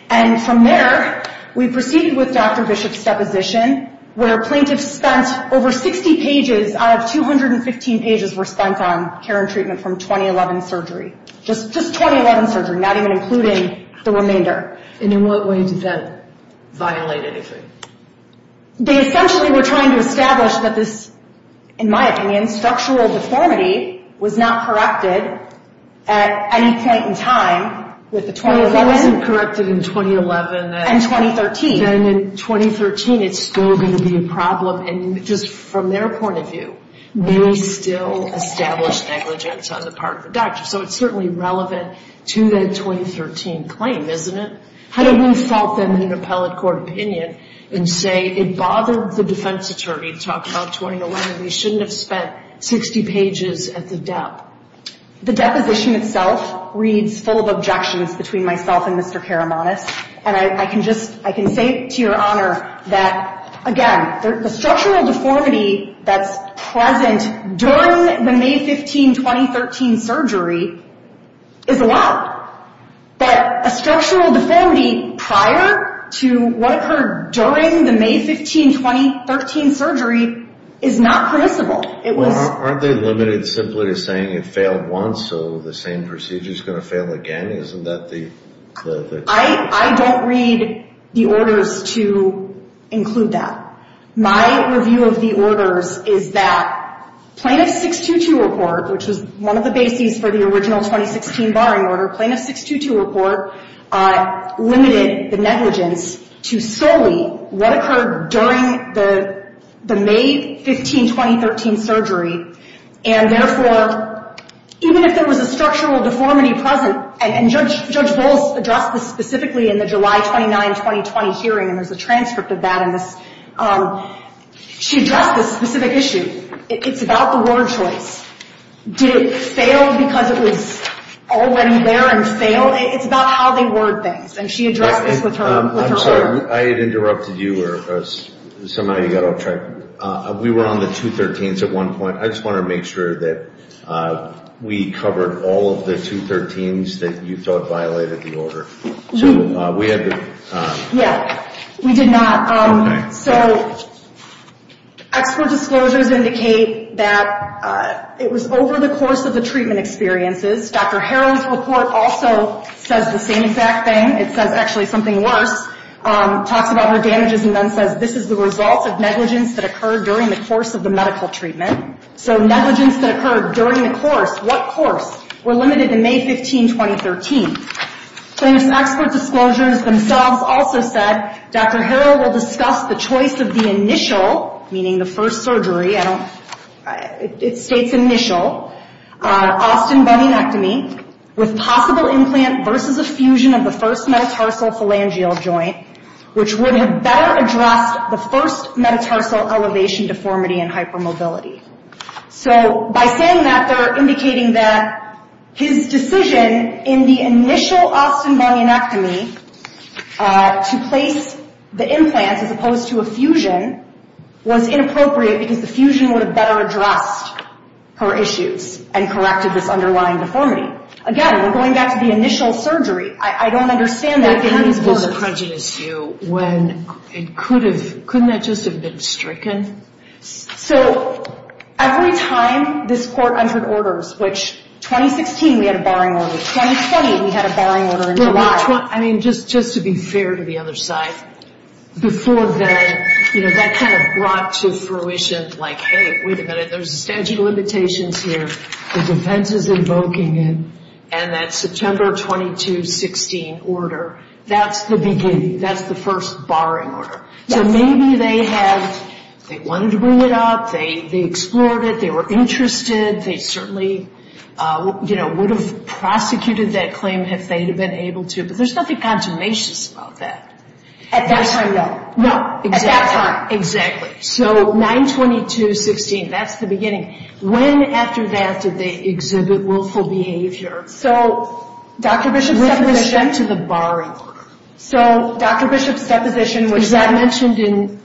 And from there we proceeded with Dr. Bishop's deposition where plaintiffs spent over 60 pages out of 216 pages response on care and treatment from 2011 surgery. Just 2011 surgery, not even including the remainder. And in what way did that violate it? They essentially were trying to establish that this, in my opinion, sexual deformity was not corrected at any point in time with the 2011 and 2013. Then in 2013 it's still going to be a problem. And just from their point of view, they still established negligence on the part of the doctor. So it's certainly relevant to that 2013 claim, isn't it? How do you stop them in an appellate court opinion and say it bothered the defense attorney to talk about 2011 and they shouldn't have spent 60 pages at the death? The deposition itself reads full of objections between myself and Mr. Karamonis. And I can say to your honor that, again, the sexual deformity that's present during the May 15, 2013 surgery is allowed. But a sexual deformity prior to what occurred during the May 15, 2013 surgery is not permissible. Well, aren't they limited simply to saying it failed once so the same procedure is going to fail again? I don't read the orders to include that. My review of the orders is that Plaintiff 622 report, which is one of the basings for the original 2016 barring order, Plaintiff 622 report limited the negligence to solely what occurred during the May 15, 2013 surgery. And, therefore, even if there was a sexual deformity present, and Judge Volk addressed this specifically in the July 29, 2020 hearing, and there's a transcript of that in this, she addressed this specific issue. It's about the word choice. Did it fail because it was all the way in there and fail? It's about how they word things. And she addressed this with her lawyer. I'm sorry, I interrupted you here because somebody got off track. We were on the 213s at one point. I just want to make sure that we covered all of the 213s that you thought violated the order. Yes, we did not. So, expert disclosures indicate that it was over the course of the treatment experiences. Dr. Harrell's report also says the same exact thing. It says actually something worked. Talks about her damages and then says, this is the result of negligence that occurred during the course of the medical treatment. So, negligence that occurred during the course. What course? We're limited to May 15, 2013. So, these expert disclosures themselves also said, Dr. Harrell will discuss the choice of the initial, meaning the first surgery, I don't, it states initial, Austin Bunionectomy with possible implant versus a fusion of the first metatarsal phalangeal joint, which would have better addressed the first metatarsal elevation deformity and hypermobility. So, by saying that, they're indicating that his decision in the initial Austin Bunionectomy to place the implant as opposed to a fusion was inappropriate because the fusion would have better addressed her issues and corrected this underlying deformity. Again, we're going back to the initial surgery. I don't understand that. It was a prejudice view when it could have, couldn't that just have been stricken? So, every time this court entered orders, which 2016 we had a barring order, 2017 we had a barring order in July. I mean, just to be fair to the other side, before that, you know, that kind of brought to fruition, like, hey, wait a minute, there's a safety limitation here, the defense is invoking it, and that September 22, 2016 order, that's the beginning, that's the first barring order. So, maybe they had, they wanted to bring it up, they explored it, they were interested, they certainly, you know, would have prosecuted that claim if they'd have been able to, but there's nothing consummation about that. At that time, no. No, exactly. At that time. Exactly. So, 9-22-16, that's the beginning. When after that did they exhibit willful behavior? So, Dr. Bishop's deposition. We're going back to the barring order. So, Dr. Bishop's deposition was not mentioned in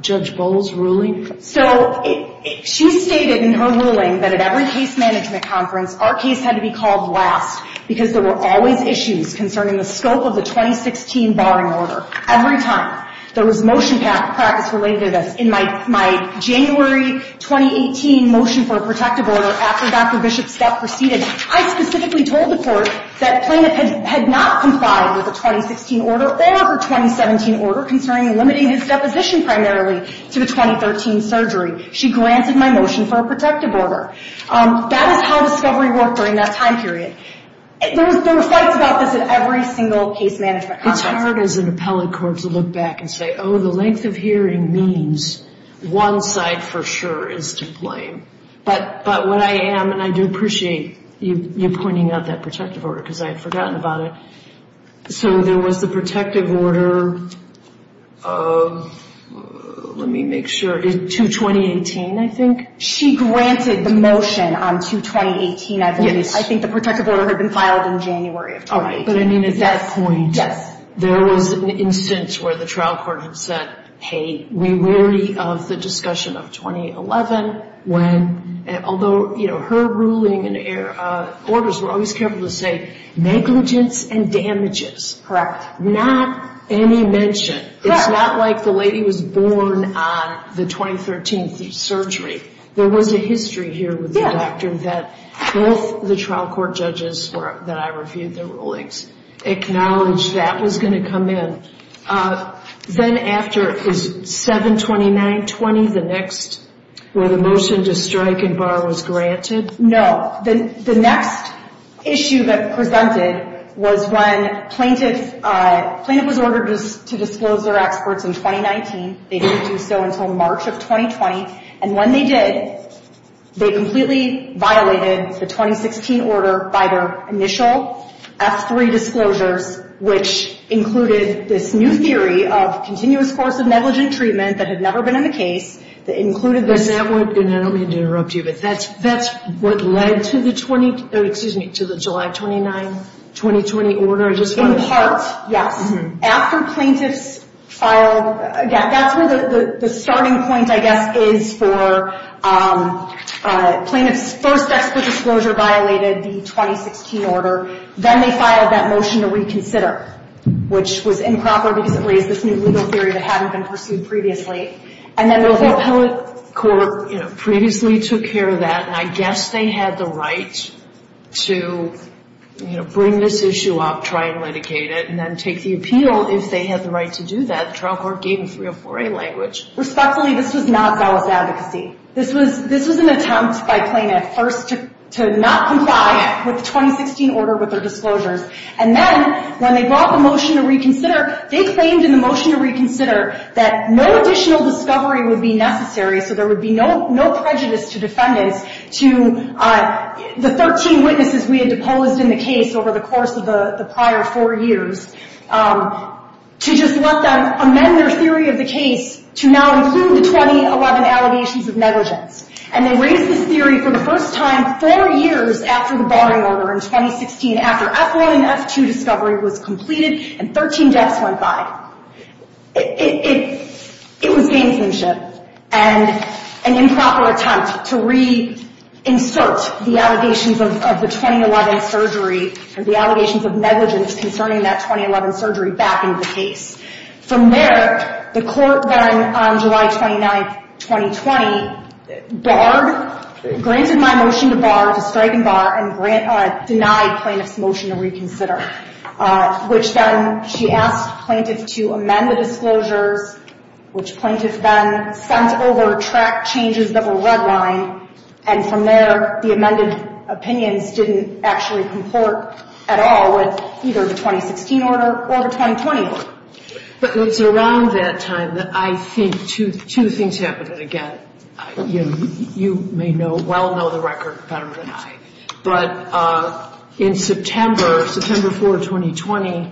Judge Bowles' ruling. So, she stated in her ruling that at every case management conference, our case had to be called last, because there were always issues concerning the scope of the 2016 barring order. Every time. There was motion practice related, and in my January 2018 motion for a protective order, after Dr. Bishop's death proceeded, I specifically told the court that Plainman had not complied with the 2016 order or the 2017 order concerning limiting his deposition primarily to the 2013 surgery. She granted my motion for a protective order. That is how discovery worked during that time period. There was talk about this at every single case management conference. It's hard as an appellate court to look back and say, oh, the length of hearing means one side for sure is to blame. But what I am, and I do appreciate you pointing out that protective order, because I had forgotten about it. So, there was the protective order of, let me make sure, in 2018, I think? She granted the motion on 2018 as is. I think the protective order had been filed in January of 2018. All right. But I mean at that point. Yes. There was an instance where the trial court had said, hey, we're weary of the discussion of 2011, although her ruling and orders were always careful to say negligence and damages. Correct. Not any mention. Correct. It's not like the lady was born on the 2013 surgery. There was a history here with the doctor that both the trial court judges that I reviewed the rulings acknowledged that was going to come in. Then after it was 7-29-20, the next, where the motion to strike and bar was granted? No. The next issue that presented was when plaintiff was ordered to disclose their experts in 2019. They didn't do so until March of 2020. And when they did, they completely violated the 2016 order by their initial F3 disclosure, which included this new theory of continuous course of negligent treatment that had never been in a case. That included this. And that would have been, I don't mean to interrupt you, but that's what led to the July 29, 2020 order. In part. Yes. After plaintiff filed, again, that's where the starting point, I guess, is for plaintiff's first F3 disclosure violated the 2016 order. Then they filed that motion to reconsider, which was improper because it raised this new legal theory that hadn't been pursued previously. And then the appellate court previously took care of that, and I guess they had the right to, you know, bring this issue up, try and mitigate it, and then take the appeal if they had the right to do that. The trial court gave a 304A language. Respectfully, this was not valid advocacy. This was an attempt by plaintiff first to not comply with the 2016 order with their disclosure. And then when they brought the motion to reconsider, they claimed in the motion to reconsider that no additional discovery would be necessary so there would be no prejudice to defendants to the 13 witnesses we had deposed in the case over the course of the prior four years to just let them amend their theory of the case to now include the 2011 allegations of negligence. And they raised this theory for the first time four years after the body order in 2016, after F1 and F2 discovery was completed and 13 deaths went by. It was dangerous and an improper attempt to reinsert the allegations of the 2011 surgery and the allegations of negligence concerning that 2011 surgery back into the case. From there, the court, then, on July 29, 2020, barred, granted my motion to bar, denied plaintiff's motion to reconsider, which then she asked plaintiff to amend the disclosure, which plaintiff then sent over track changes that were redlined. And from there, the amended opinion didn't actually comport at all with either the 2016 order or the 2020 order. But it was around that time that I think two things happened again. You may well know the record, Petra and I, but in September, September 4, 2020,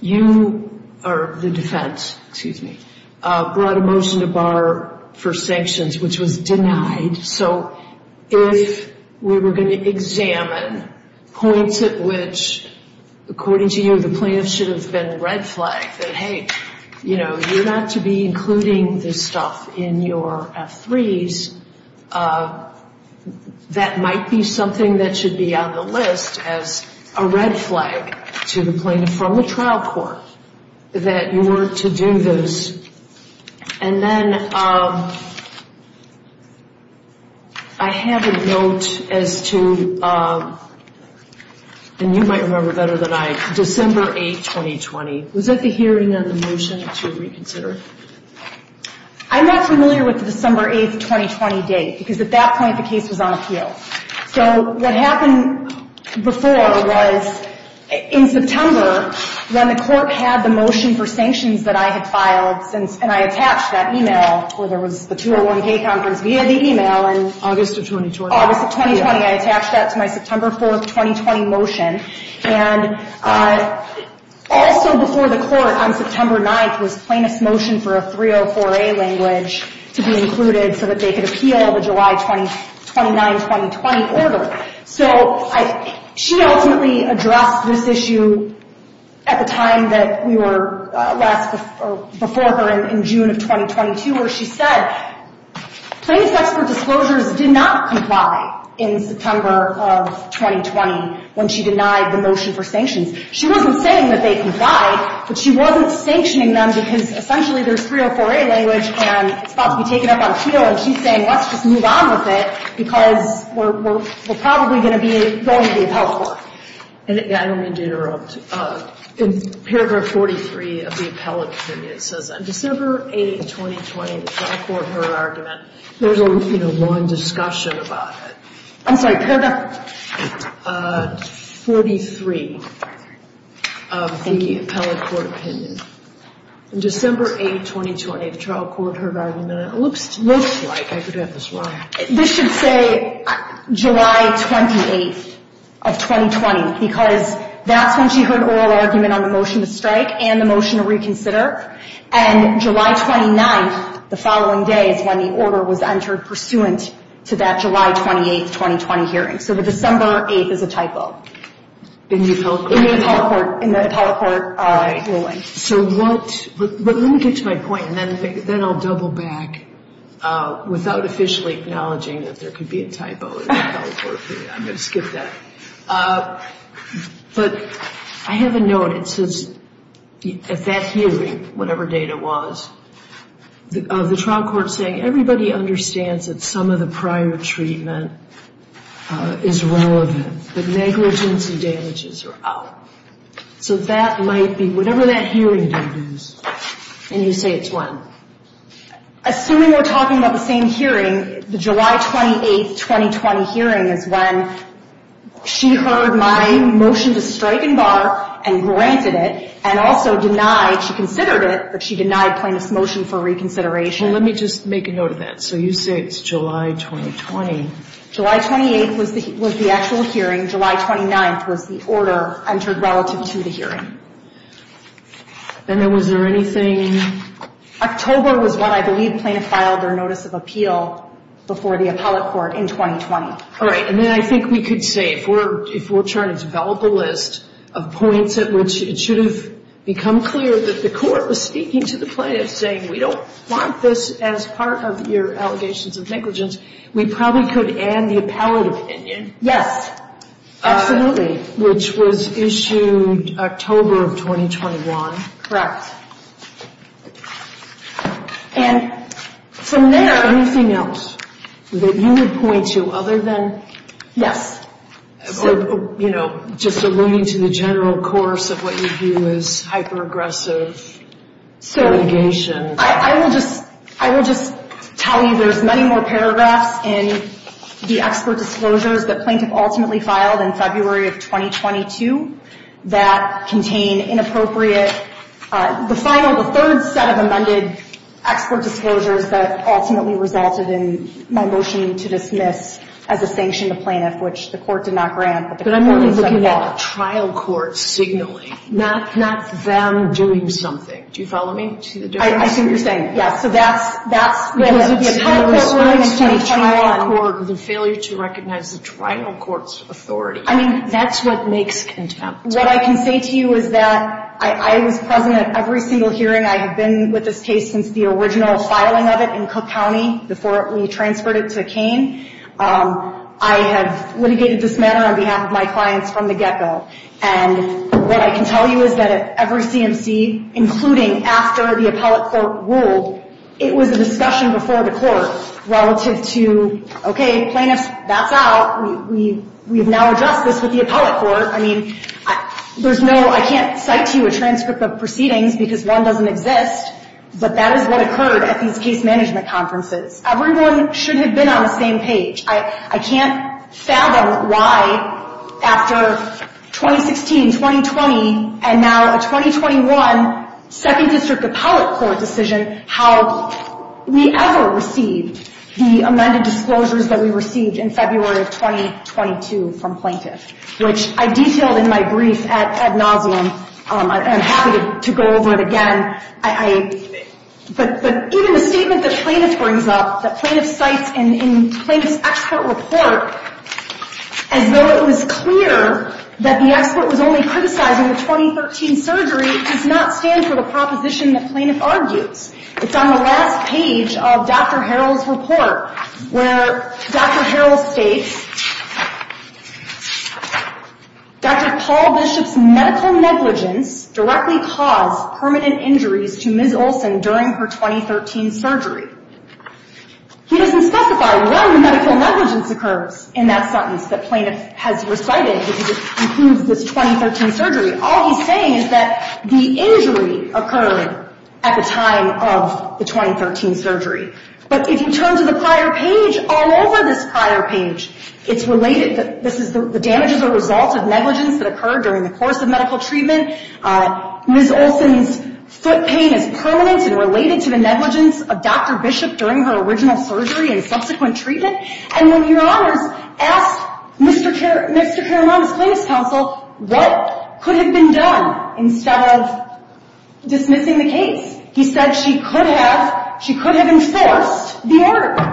you, or the defense, excuse me, brought a motion to bar for sanctions, which was denied. So if we were going to examine points at which, according to you, the plaintiff should have been red flagged, that, hey, you know, you're not to be including this stuff in your F3s. That might be something that should be on the list as a red flag to the plaintiff from the trial court that you were to do this. And then I had a note as to, and you might remember better than I, December 8, 2020. Was that the hearing of the motion to reconsider? I'm not familiar with the December 8, 2020 date, because at that point, the case was on appeal. So what happened before was, in September, when the court had the motion for sanctions that I had filed, and I attached that e-mail, or there was the 201-K contract via the e-mail in August of 2020. I attached that to my September 4, 2020 motion. And also before the court on September 9 was the plaintiff's motion for a 304-A language to be included so that they could appeal the July 29, 2020 order. So she ultimately addressed this issue at the time that we were before her in June of 2022, Plaintiff's effort for disclosure did not comply in September of 2020 when she denied the motion for sanctions. She wasn't saying that they comply, but she wasn't sanctioning them because essentially their 304-A language can't be taken up on appeal. And she's saying, let's just move on with it, because we're probably going to be going to the appellate court. I'm going to interrupt. In paragraph 43 of the appellate opinion, it says, On December 8, 2020, the trial court heard argument. There was a long discussion about it. I'm sorry, paragraph 43 of the appellate court opinion. On December 8, 2020, the trial court heard argument. It looks like I could have this wrong. This should say July 28, 2020, because that's when she heard oral argument on the motion to strike and the motion to reconsider. And July 29, the following day, is when the order was entered pursuant to that July 28, 2020 hearing. So the December 8 is a typo. In the appellate court ruling. But let me get to my point, and then I'll double back without officially acknowledging that there could be a typo. I'm going to skip that. But I have a note. It says, at that hearing, whatever date it was, the trial court saying, Everybody understands that some of the prior treatment is relevant. The negligence and damages are out. So that might be, whatever that hearing date is. And you say it's when? Assuming we're talking about the same hearing, the July 28, 2020 hearing is when she heard my motion to strike and bar and granted it, and also denied, she considered it, but she denied playing this motion for reconsideration. Well, let me just make a note of that. So you say it's July 2020. July 28 was the actual hearing. July 29 was the order entered relative to the hearing. And then was there anything? October was when I believe plaintiffs filed their notice of appeal before the appellate court in 2020. All right, and then I think we could say, if we're trying to develop a list of points at which it should have become clear that the court was speaking to the plaintiff, saying we don't want this as part of your allegations of negligence, we probably could add the appellate opinion. Yes, absolutely. Which was issued October of 2021. Correct. And from there, anything else that you would point to other than? Yes. Or, you know, just alluding to the general course of what you view as hyper-aggressive litigation. I will just, Colleen, there's many more paragraphs in the expert disclosures that plaintiffs ultimately filed in February of 2022 that contain inappropriate, the final, the third set of amended expert disclosures that ultimately resulted in my motion to dismiss as a sanctioned plaintiff, which the court did not grant. But I'm looking at a trial court signaling, not them doing something. Do you follow me? I think you're saying, yes. So that's, that's. The failure to recognize the trial court's authority. I mean, that's what makes contempt. What I can say to you is that I was present at every single hearing. I have been with this case since the original filing of it in Cook County, before we transferred it to Kane. I have litigated this matter on behalf of my clients from the get-go. And what I can tell you is that at every C&C, including after the appellate court ruled, it was a discussion before the court relative to, okay, plaintiffs, that's out. We've now addressed this with the appellate court. I mean, there's no, I can't cite you a transcript of proceedings because one doesn't exist, but that is what occurred at these case management conferences. Everyone should have been on the same page. I can't fathom why after 2016, 2020, and now 2021, second district appellate court decision, how we ever received the amended disclosures that we received in February of 2022 from plaintiffs, which I detailed in my brief at Novelum. I'm happy to go over it again. But even the statement that plaintiff brings up, that plaintiff cites in plaintiff's expert report, and Novelum is clear that the expert was only criticized in the 2013 surgery, is not clear to the proposition that plaintiff argues. It's on the last page of Dr. Harrell's report, where Dr. Harrell states, Dr. Paul Bishop's medical negligence directly caused permanent injuries to Ms. Olsen during her 2013 surgery. He doesn't specify what medical negligence occurred in that sentence that plaintiff has recited to conclude this 2013 surgery. All he's saying is that the injury occurred at the time of the 2013 surgery. But in terms of the prior page, all over this prior page, it's related that this is the damage as a result of negligence that occurred during the course of medical treatment. Ms. Olsen's foot pain is permanent and related to the negligence of Dr. Bishop during her original surgery and subsequent treatment. And when your Honor asked Mr. Caranon's plaintiff's counsel what could have been done instead of dismissing the case, he said she could have enforced the order.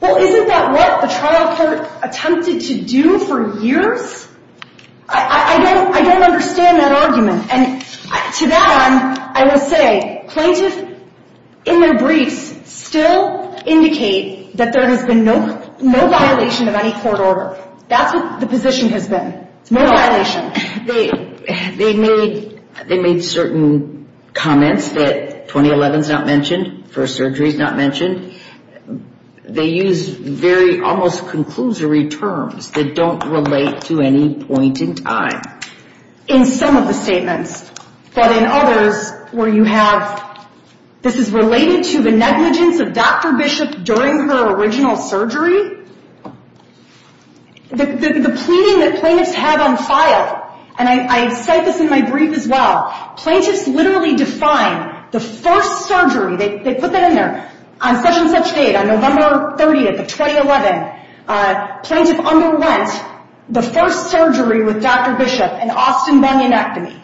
Well, isn't that what the trial court attempted to do for years? I don't understand that argument. And to that end, I will say, plaintiffs, in their brief, still indicate that there has been no violation of any court order. That's what the position has been. No violation. They made certain comments that 2011 is not mentioned, first surgery is not mentioned. They used very almost conclusory terms that don't relate to any point in time. In some of the statements, but in others where you have, this is related to the negligence of Dr. Bishop during her original surgery. The pleading that plaintiffs have on file, and I cite this in my brief as well, plaintiffs literally define the first surgery, they put that in there, on such and such date, on November 30th, 2011, plaintiffs underwent the first surgery with Dr. Bishop in Austin, Virginia.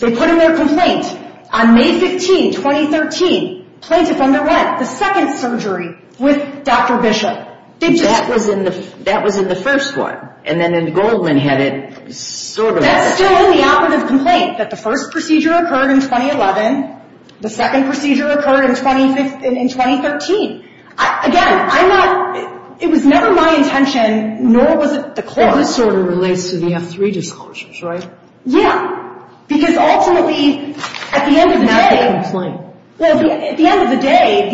They put in their complaint, on May 15th, 2013, plaintiffs underwent the second surgery with Dr. Bishop. That was in the first one. And then Goldman had it, sort of. That was still in the opposite complaint, that the first procedure occurred in 2011, the second procedure occurred in 2013. Again, I'm not, it was never my intention, nor was it the court's. That would sort of relate to the F3 disclosures, right? Yeah. Because ultimately, at the end of the day, at the end of the day,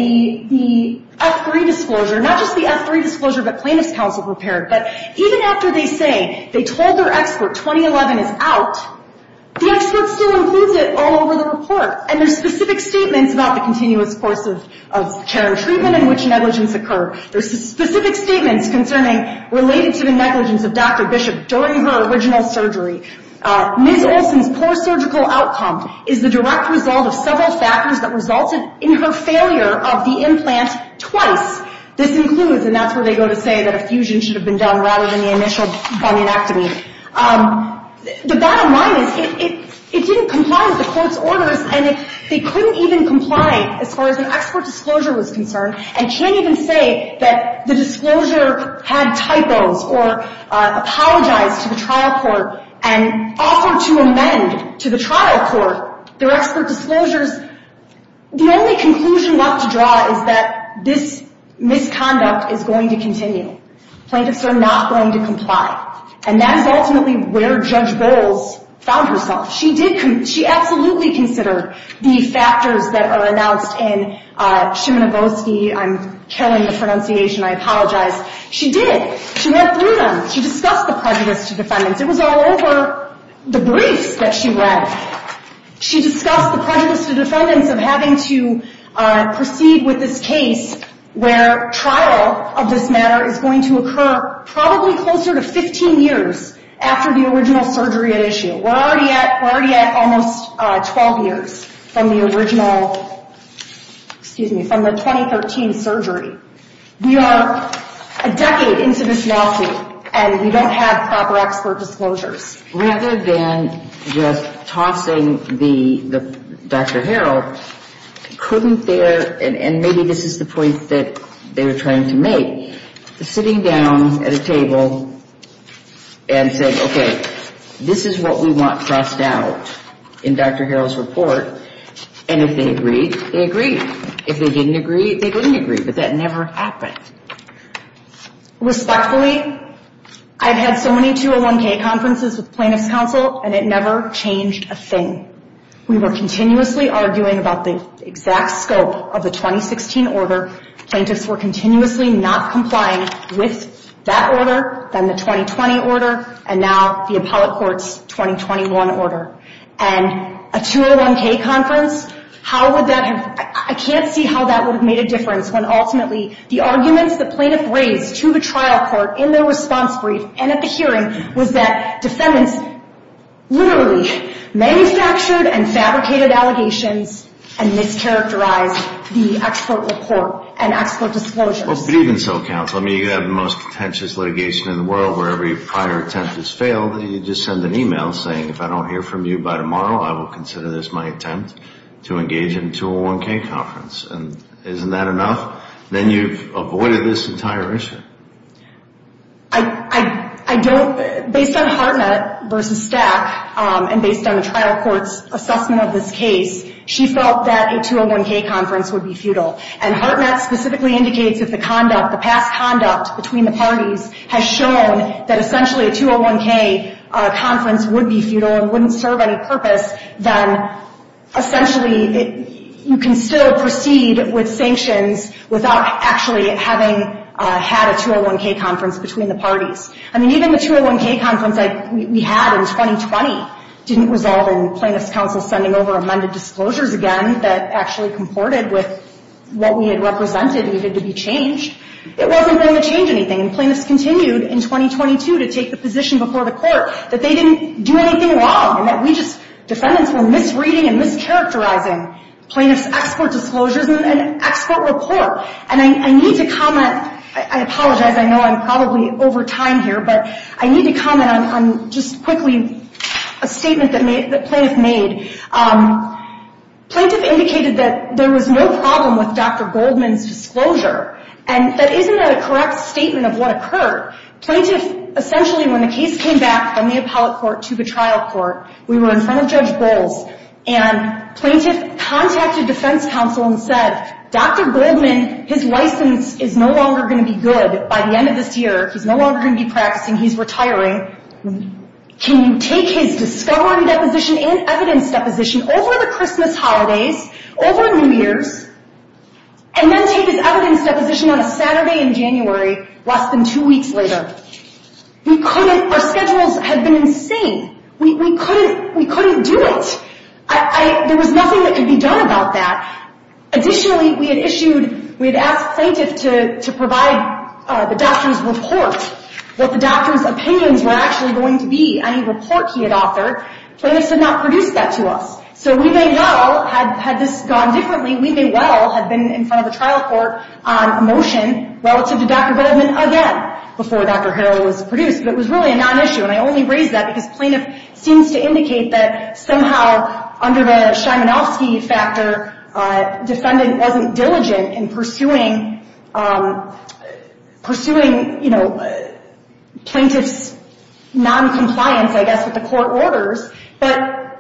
the F3 disclosure, not just the F3 disclosure that plaintiffs' counsel prepared, but even after they say, they told their expert 2011 is out, the expert still includes it all over the report. And there's specific statements about the continuous course of care and treatment in which negligence occurred. There's specific statements concerning, related to the negligence of Dr. Bishop during her original surgery. Mid-opening post-surgical outcome is the direct result of several factors that resulted in her failure of the implant twice. This includes, and that's where they go to say that a fusion should have been done rather than the initial bionectomy. The bottom line is, it didn't comply with the court's orders, and it couldn't even comply as far as an expert disclosure was concerned, and can't even say that the disclosure had typos or apologize to the trial court, and offer to amend to the trial court their expert disclosure. The only conclusion not to draw is that this misconduct is going to continue. Plaintiffs are not going to comply. And that's ultimately where Judge Gold found herself. She absolutely considered the factors that are announced in Szymanowski, I'm terrible at pronunciation, I apologize. She did. She had freedom. She discussed the prejudice to defendants. It was all over the brief that she read. She discussed the prejudice to defendants of having to proceed with this case where trial of this matter is going to occur probably closer to 15 years after the original surgery initial. We're already at almost 12 years from the original, excuse me, from the 2013 surgery. We are a decade into this lawsuit, and we don't have proper expert disclosure. Rather than just tossing Dr. Harrell, couldn't there, and maybe this is the point that they're trying to make, sitting down at a table and said, okay, this is what we want crossed out in Dr. Harrell's report, and if they agreed, they agreed. If they didn't agree, they didn't agree. But that never happened. Respectfully, I've had so many 201K conferences with plaintiff's counsel, and it never changed a thing. We were continuously arguing about the exact scope of the 2016 order. Plaintiffs were continuously not complying with that order, then the 2020 order, and now the appellate court's 2021 order. A 201K conference, I can't see how that would have made a difference when ultimately the arguments the plaintiff raised to the trial court in their response brief and at the hearing was that the sentence literally manufactured and fabricated allegations and mischaracterized the expert report and expert disclosure. Even so, counsel, you have the most pretentious litigation in the world where every prior attempt has failed, and you just send an email saying, if I don't hear from you by tomorrow, I will consider this my attempt to engage in a 201K conference. Isn't that enough? Then you've avoided this entire issue. Based on Hartnett versus Stack, and based on the trial court's assessment of this case, she felt that a 201K conference would be futile, and Hartnett specifically indicates that the conduct between the parties has shown that essentially a 201K conference would be futile and wouldn't serve any purpose. Then, essentially, you can still proceed with sanctions without actually having had a 201K conference between the parties. I mean, even the 201K conference that we had in 2020 didn't resolve in plaintiff's counsel sending over amended disclosures again that actually comported with what we had represented and needed to be changed. It wasn't going to change anything. Plaintiff continued in 2022 to take the position before the court that they didn't do anything wrong, that we just, defendants, were misreading and mischaracterizing plaintiff's export disclosure and export report. And I need to comment. I apologize. I know I'm probably over time here, but I need to comment on just quickly a statement that plaintiff made. Plaintiff indicated that there was no problem with Dr. Goldman's disclosure, and that isn't a correct statement of what occurred. Plaintiff, essentially, when the case came back from the appellate court to the trial court, we were in front of Judge Gold, and plaintiff contacted defense counsel and said, Dr. Goldman, his license is no longer going to be good by the end of this year. He's no longer going to be practicing. He's retiring. Can you take his discovery deposition and evidence deposition over the Christmas holidays, over New Year's, and then take his evidence deposition on a Saturday in January, less than two weeks later? We couldn't. Our schedules had been insane. We couldn't do it. There was nothing that could be done about that. Additionally, we had asked plaintiffs to provide the doctor's report, what the doctor's opinions were actually going to be. I mean, the clerk he had offered. Plaintiff did not produce that to us. So we may well, had this gone differently, we may well have been in front of the trial court on a motion relative to Dr. Goldman again before Dr. Harrell was produced. But it was really not an issue. And I only raise that because plaintiff seems to indicate that somehow, under the Shimanowski factor, defendant wasn't diligent in pursuing, you know, plaintiff's non-compliance, I guess, with the court orders. But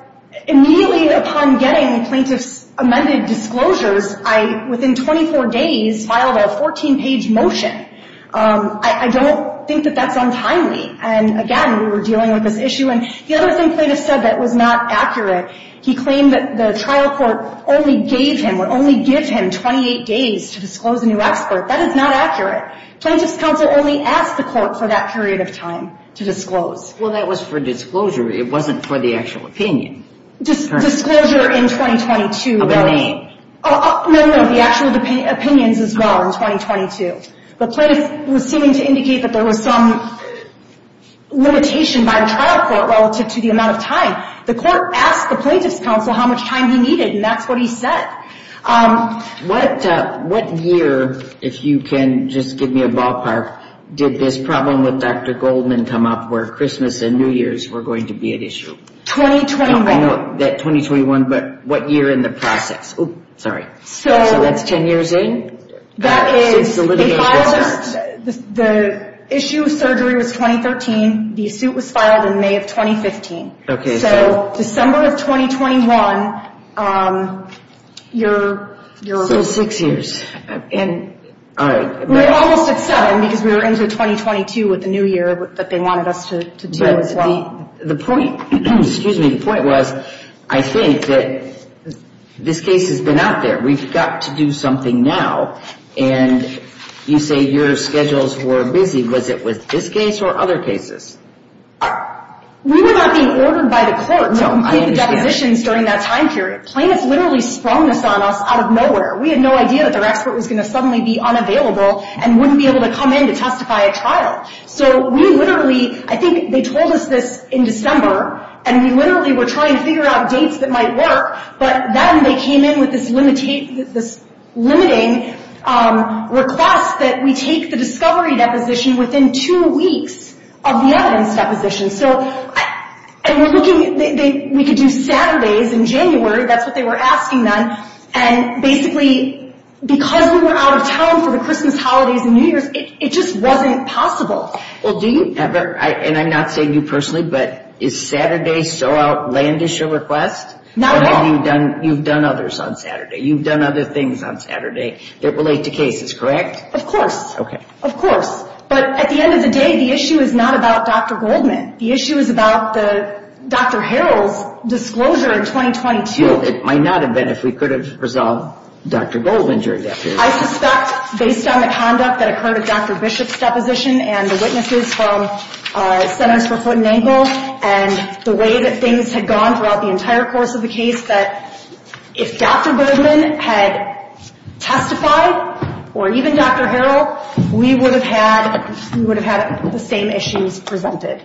immediately upon getting the plaintiff's amended disclosures, I, within 24 days, filed a 14-page motion. I don't think that that's untimely. And again, we were dealing with this issue. And the other thing plaintiff said that was not accurate, he claimed that the trial court only gave him, would only give him 28 days to disclose a new expert. That is not accurate. Plaintiff's counsel only asked the court for that period of time to disclose. Well, that was for disclosure. It wasn't for the actual opinion. Disclosure in 2022. The name. No, no, the actual opinions as well in 2022. The plaintiff was seeming to indicate that there was some limitation by the trial court relative to the amount of time. The court asked the plaintiff's counsel how much time he needed, and that's what he said. What year, if you can just give me a ballpark, did this problem with Dr. Goldman come up where Christmas and New Year's were going to be an issue? 2021. That 2021, but what year in the process? Oops, sorry. So. That's 10 years in? That is. The issue of surgery was 2013. The suit was filed in May of 2015. Okay. So December of 2021, you're. For six years. And. All right. We're almost at seven because we're into 2022 with the new year that they have. The point. Excuse me. The point was, I think that. This case has been out there. We've got to do something now. And you say yours schedules were busy. Was it with this case or other cases? During that time period. Out of nowhere. We had no idea that their expert was going to suddenly be unavailable and wouldn't be able to come in to testify at all. So we literally, I think they told us this in December. And we literally were trying to figure out dates that might work. But then they came in with this. Limited. Requests that we take the discovery deposition within two weeks. So. We can do Saturdays in January. That's what they were asking us. And basically. It just wasn't possible. And I'm not saying you personally, but it's Saturday. So outlandish your request. You've done other things on Saturday that relate to cases, correct? Of course. Of course. But at the end of the day, the issue is not about Dr. Goldman. The issue is about the Dr. Harold disclosure in 2022. It might not have been if we could have resolved Dr. Goldman during that period. Based on the conduct that occurred at Dr. Bishop's deposition and the witnesses from centers for foot and ankle. And the way that things had gone throughout the entire course of the case. If Dr. Goldman had testified, or even Dr. Harold, we would have had the same issues presented.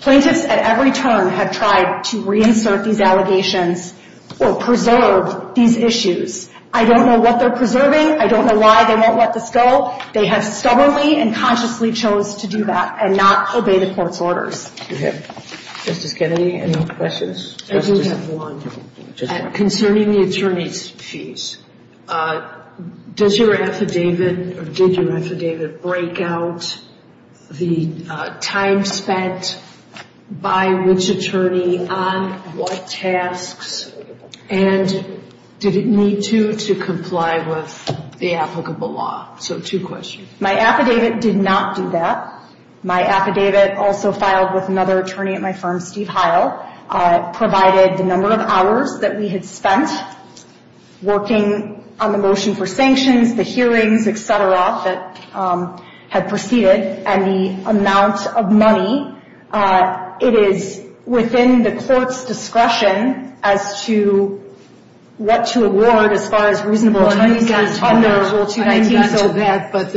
Places at every turn have tried to reinsert these allegations. Or preserve these issues. I don't know what they're preserving. I don't know why they won't let this go. They have stubbornly and consciously chose to do that. And not obey the court's orders. Okay. Mr. Kennedy, any other questions? I do have one. Concerning the attorney's piece, does your affidavit, or did your affidavit break out the time spent by which attorney on what tasks? And did it need to, to comply with the applicable law? So, two questions. My affidavit did not do that. My affidavit also filed with another attorney at my firm, Steve Heil. Provided the number of hours that we had spent working on the motion for sanctions, the hearings, et cetera, that had proceeded. And the amount of money. It is within the court's discretion as to what to award as far as reasonable. I haven't gotten to that, but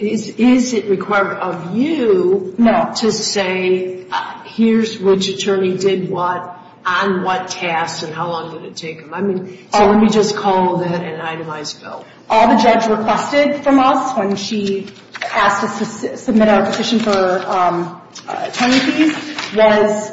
is it required of you to say, here's which attorney did what, on what tasks, and how long did it take them? Let me just call that an itemized bill. All the judge requested from us when she asked us to submit our petition for Kennedy was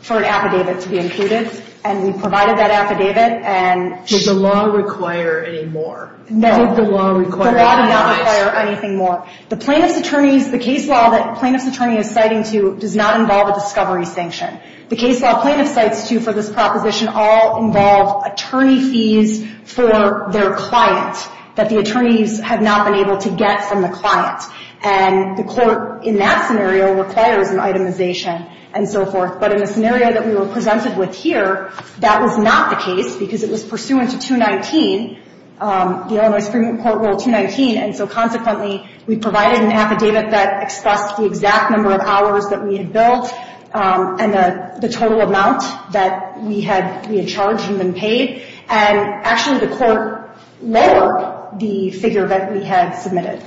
for an affidavit to be included. And we provided that affidavit. Did the law require any more? No. The law did not require anything more. The plaintiff's attorney, the case law that the plaintiff's attorney is fighting to does not involve a discovery sanction. The case law plaintiff fights to for this proposition all involves attorney fees for their client that the attorneys have not been able to get from the client. And the court in that scenario required an itemization and so forth. But in the scenario that we were presented with here, that was not the case because it was pursuant to 219, the Illinois Supreme Court Rule 219, and so consequently we provided an affidavit that expressed the exact number of hours that we had billed and the total amount that we had charged and been paid. And actually the court lowered the figure that we had submitted.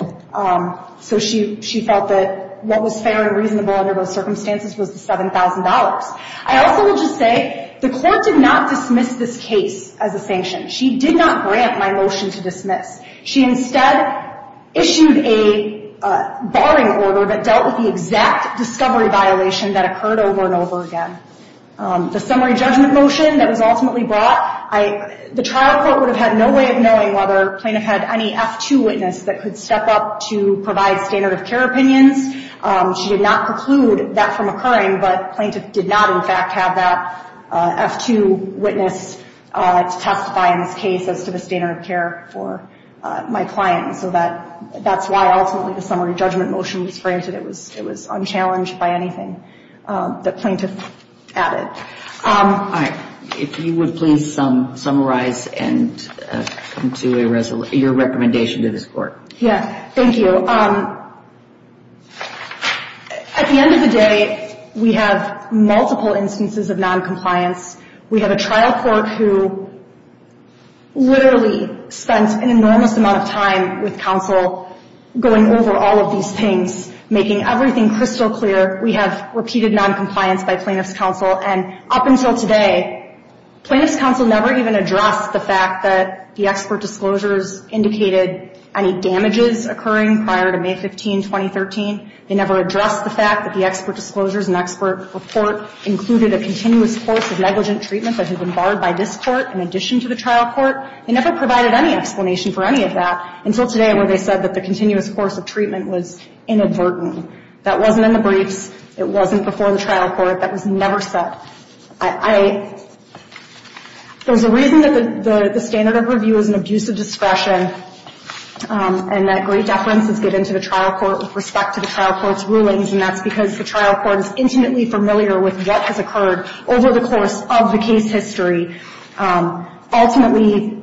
So she felt that what was fair and reasonable under those circumstances was the $7,000. I also will just say the court did not dismiss this case as a sanction. She did not grant my motion to dismiss. She instead issued a barring order that dealt with the exact discovery violation that occurred over and over again. The summary judgment motion that was ultimately brought, the trial court would have had no way of knowing whether the plaintiff had any F-2 witness that could step up to provide standard of care opinions. She did not preclude that from occurring, but the plaintiff did not in fact have that F-2 witness testify in this case as to the standard of care for my client. So that's why also the summary judgment motion was phrased that it was unchallenged by anything that plaintiff added. All right. If you would please summarize and conclude your recommendation to this court. Yes. Thank you. So at the end of the day, we have multiple instances of noncompliance. We have a trial court who literally spent an enormous amount of time with counsel going over all of these things, making everything crystal clear. We have repeated noncompliance by plaintiff's counsel. And up until today, plaintiff's counsel never even addressed the fact that the expert disclosures indicated any damages occurring prior to May 15, 2013. They never addressed the fact that the expert disclosures and expert report included a continuous course of negligent treatment that had been barred by this court in addition to the trial court. They never provided any explanation for any of that until today where they said that the continuous course of treatment was inadvertent. That wasn't in the brief. It wasn't before the trial court. That was never said. So the reason that the standard of review is an abuse of discretion and that great reference is given to the trial court with respect to the trial court's rulings, and that's because the trial court is intimately familiar with what has occurred over the course of the case history. Ultimately,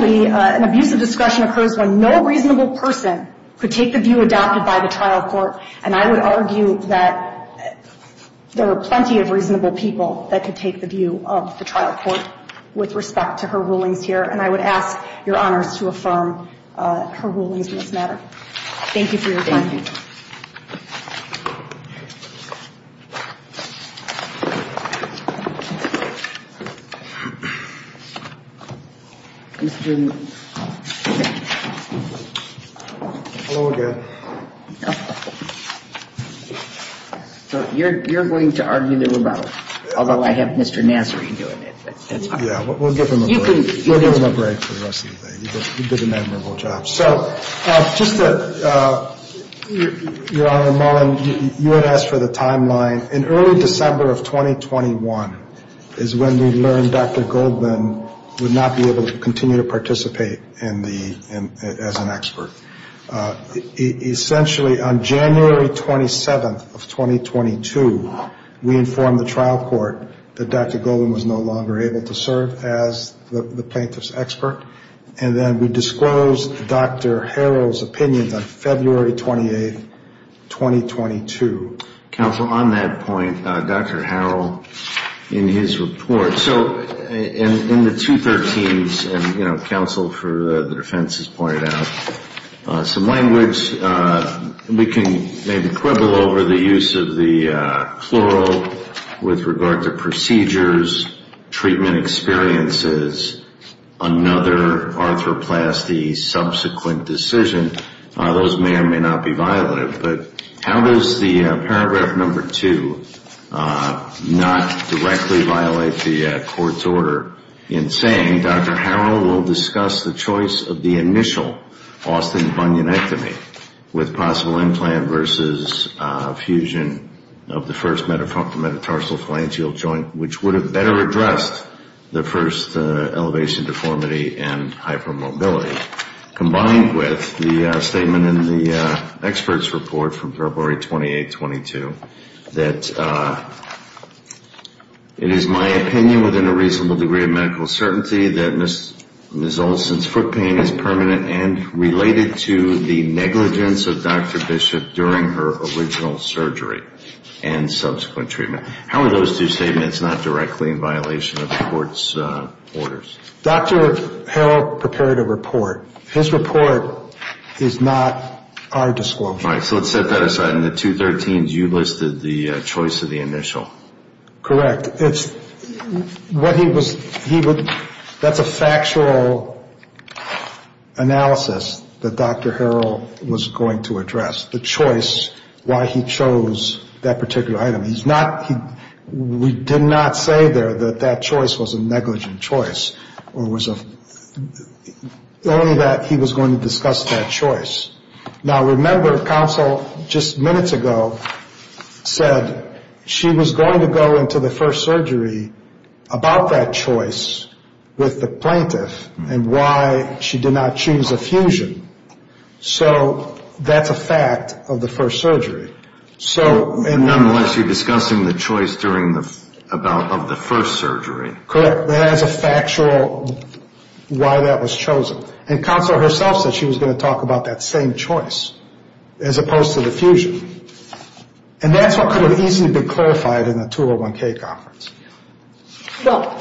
an abuse of discretion occurs when no reasonable person could take the view adopted by the trial court. And I would argue that there are plenty of reasonable people that could take the view of the trial court with respect to her rulings here, and I would ask your honors to affirm her rulings in this matter. Thank you. Thank you. You're going to argue a little about it. Although I have Mr. Nasseri doing it. Yeah, we'll give him a break. We'll give him a break for the rest of the day. He did an admirable job. Your Honor, Mullen, you had asked for the timeline. In early December of 2021 is when we learned Dr. Goldman would not be able to continue to participate as an expert. Essentially, on January 27th of 2022, we informed the trial court that Dr. Goldman was no longer able to serve as the plaintiff's expert. And then we disclosed Dr. Harrell's opinion on February 28th, 2022. Counsel, on that point, Dr. Harrell, in his report, so in the 213s, and, you know, counsel for the defense has pointed out, some language. We can maybe quibble over the use of the plural with regard to procedures, treatment experiences, another arthroplasty, subsequent decision. Those may or may not be violative. But how does the paragraph number two not directly violate the court's order in saying Dr. Harrell will discuss the choice of the initial Austin-Hunion with possible implant versus fusion of the first metatarsal joint, which would have better addressed the first elevation deformity and hypermobility. Combined with the statement in the expert's report from February 28th, 22, that it is my opinion within a reasonable degree of medical certainty that Ms. Olson's foot pain is permanent and related to the negligence of Dr. Bishop during her original surgery and subsequent treatment. How are those two statements not directly in violation of the court's orders? Dr. Harrell prepared a report. His report is not our disclosure. All right. So let's set that aside. In the 213s, you listed the choice of the initial. Correct. That's a factual analysis that Dr. Harrell was going to address, the choice, why he chose that particular item. We did not say there that that choice was a negligent choice. Only that he was going to discuss that choice. Now remember, counsel just minutes ago said she was going to go into the first surgery about that choice with the plaintiff and why she did not choose a fusion. So that's a fact of the first surgery. So nonetheless, she discussed the choice of the first surgery. Correct. That is a factual why that was chosen. And counsel herself said she was going to talk about that same choice as opposed to the fusion. And that's what could have easily been clarified in the 201K conference. Well,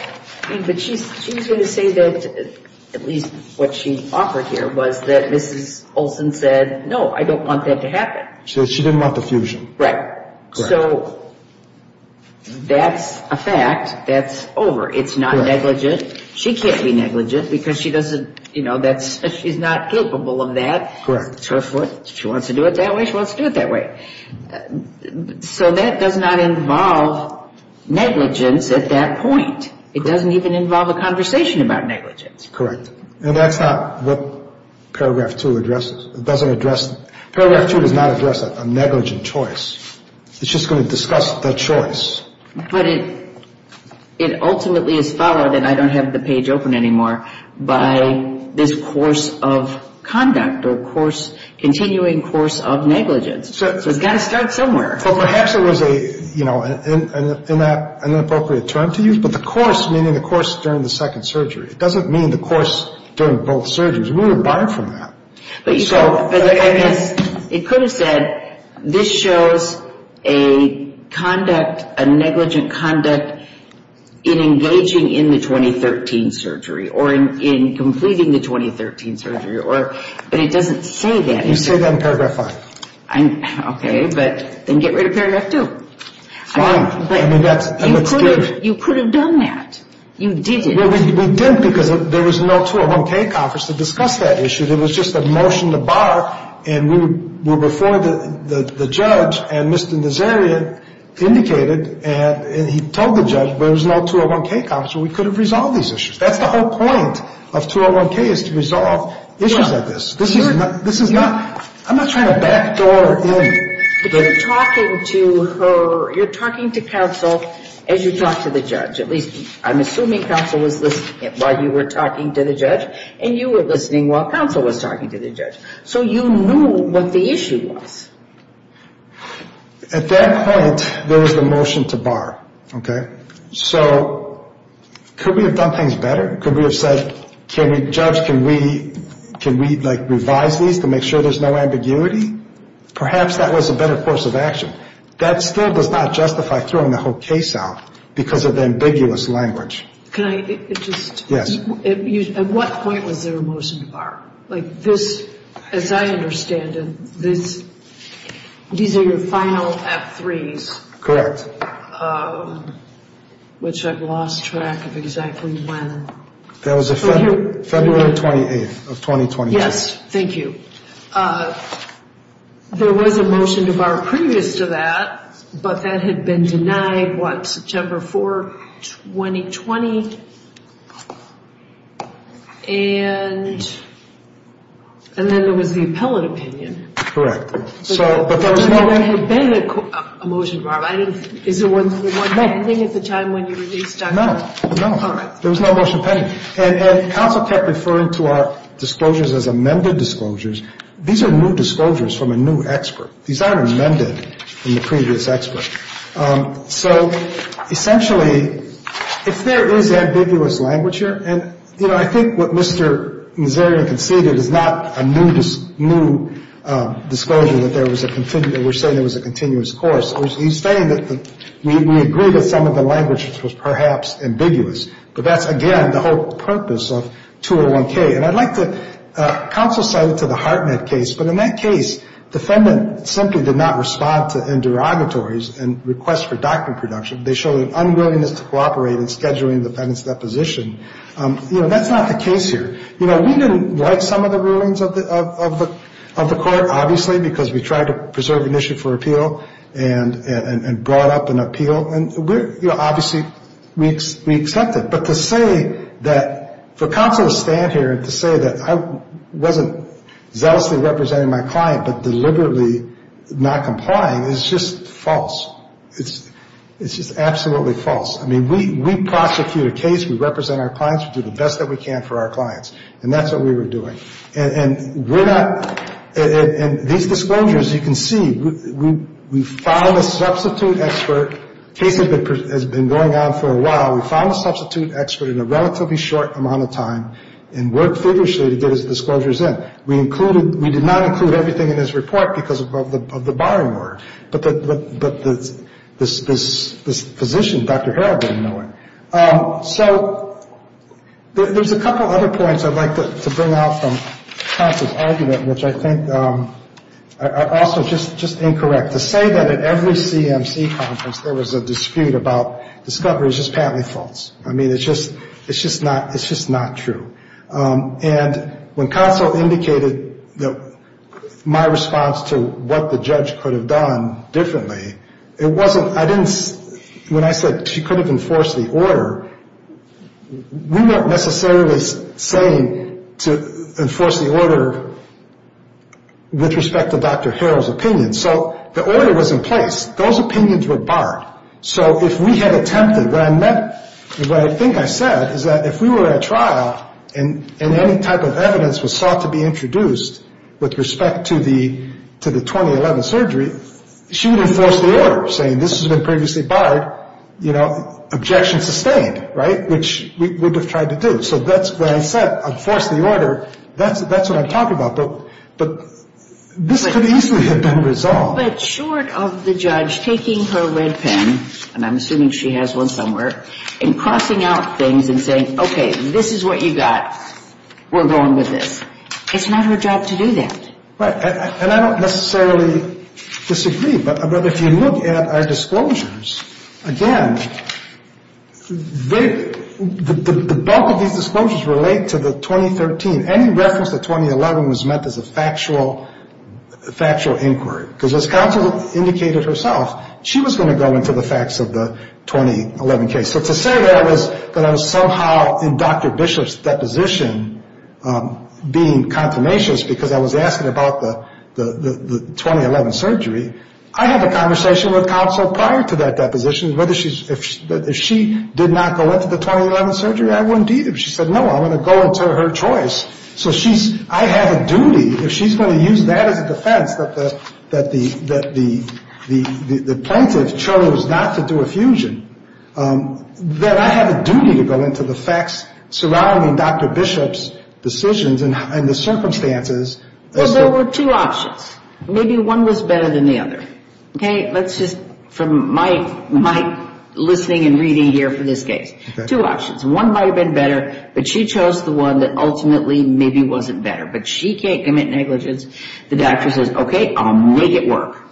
she did say that at least what she offered here was that Mrs. Colton said, no, I don't want that to happen. She said she didn't want the fusion. Right. So that's a fact. That's over. It's not negligent. She can't be negligent because she doesn't, you know, she's not capable of that. Correct. She wants to do it that way. She wants to do it that way. So that does not involve negligence at that point. It doesn't even involve a conversation about negligence. Correct. And that's not what paragraph 2 addresses. It doesn't address it. Paragraph 2 does not address a negligent choice. It's just going to discuss the choice. But it ultimately is followed, and I don't have the page open anymore, by this course of conduct or course, continuing course of negligence. So it's got to start somewhere. Perhaps it was a, you know, an inappropriate term to use, but the course, meaning the course during the second surgery. It doesn't mean the course during both surgeries. We were barred from that. It could have said this shows a conduct, a negligent conduct in engaging in the 2013 surgery, or in completing the 2013 surgery. But it doesn't say that. It says that in paragraph 5. Okay. But then get rid of paragraph 2. You could have done that. You didn't. We didn't because there was no 201K conference to discuss that issue. It was just a motion to bar, and we referred the judge, and Mr. Nazarian indicated, and he told the judge there was no 201K conference, so we could have resolved these issues. That's the whole point of 201K is to resolve issues like this. This is not, I'm not trying to backdoor or blame. You're talking to counsel, and you talk to the judge. At least I'm assuming counsel was listening while you were talking to the judge, and you were listening while counsel was talking to the judge. So you knew what the issue was. At that point, there was a motion to bar. Okay. So could we have done things better? Could we have said, can we judge, can we, like, revise these to make sure there's no ambiguity? Perhaps that was a better course of action. That still does not justify throwing the whole case out because of the ambiguous language. Can I just? Yes. At what point was there a motion to bar? Like this, as I understand it, these are your final F3s. Correct. Which I've lost track of exactly when. That was February 28th of 2020. Yes. Thank you. There was a motion to bar previous to that, but that had been denied, what, September 4th, 2020? And then there was the appellate opinion. Correct. There has been a motion to bar, but I didn't see it at the time when you released that. No, no. There was no motion pending. And counsel kept referring to our disclosures as amended disclosures. These are new disclosures from a new expert. These aren't amended from the previous expert. So, essentially, there is ambiguous language here, and, you know, I think what Mr. Nazarian conceded is not a new disclosure that we're saying was a continuous course. He's saying that we agree that some of the language was perhaps ambiguous. But that's, again, the whole purpose of 201K. And I'd like to counsel-side it to the Hartman case. But in that case, the defendant simply did not respond to interrogatories and requests for document production. They showed an unwillingness to cooperate in scheduling the defendant's reposition. You know, that's not the case here. You know, we didn't like some of the rulings of the court, obviously, because we tried to preserve an issue for appeal and brought up an appeal. And, you know, obviously, we accept it. But to say that for counsel to stand here and to say that I wasn't zealously representing my client but deliberately not complying is just false. It's just absolutely false. I mean, we prosecute a case. We represent our clients. We do the best that we can for our clients. And that's what we were doing. And we're not-and these disclosures, you can see, we filed a substitute expert. The case has been going on for a while. We filed a substitute expert in a relatively short amount of time and worked vigorously to get his disclosures in. We included-we did not include everything in his report because of the barring order. But this position, Dr. Harrell didn't know it. So there's a couple other points I'd like to bring out from counsel's argument, which I think are also just incorrect. To say that at every CMC conference there was a dispute about discovery is just patently false. I mean, it's just not true. And when counsel indicated my response to what the judge could have done differently, it wasn't-I didn't-when I said she couldn't enforce the order, we weren't necessarily saying to enforce the order with respect to Dr. Harrell's opinion. So the order was in place. Those opinions were barred. So if we had attempted, what I meant, what I think I said, is that if we were at trial and any type of evidence was sought to be introduced with respect to the 2011 surgery, she would enforce the order, saying this has been previously barred, you know, objection sustained, right, which we would have tried to do. So that's why I said enforce the order. That's what I'm talking about. But this could easily have been resolved. Well, but short of the judge taking her red pen, and I'm assuming she has one somewhere, and crossing out things and saying, okay, this is what you got, we're going with this, it's not her job to do that. Right. And I don't necessarily disagree, but if you look at our disclosures, again, the bulk of these disclosures relate to the 2013. And any reference to 2011 was meant as a factual inquiry, because as counsel indicated herself, she was going to go into the facts of the 2011 case. So to say that is that I was somehow in Dr. Bishop's deposition being confirmationist, because I was asking about the 2011 surgery. I had a conversation with counsel prior to that deposition. If she did not go into the 2011 surgery, I wouldn't either. She said, no, I'm going to go into her choice. So I have a duty, if she's going to use that as a defense that the plaintiff chose not to do a fusion, then I have a duty to go into the facts surrounding Dr. Bishop's decisions and the circumstances. Well, there were two options. Maybe one was better than the other. Okay, let's just, from my listening and reading here for this case, two options. One might have been better, but she chose the one that ultimately maybe wasn't better. But she can't commit negligence. The doctor says, okay, I'll make it work.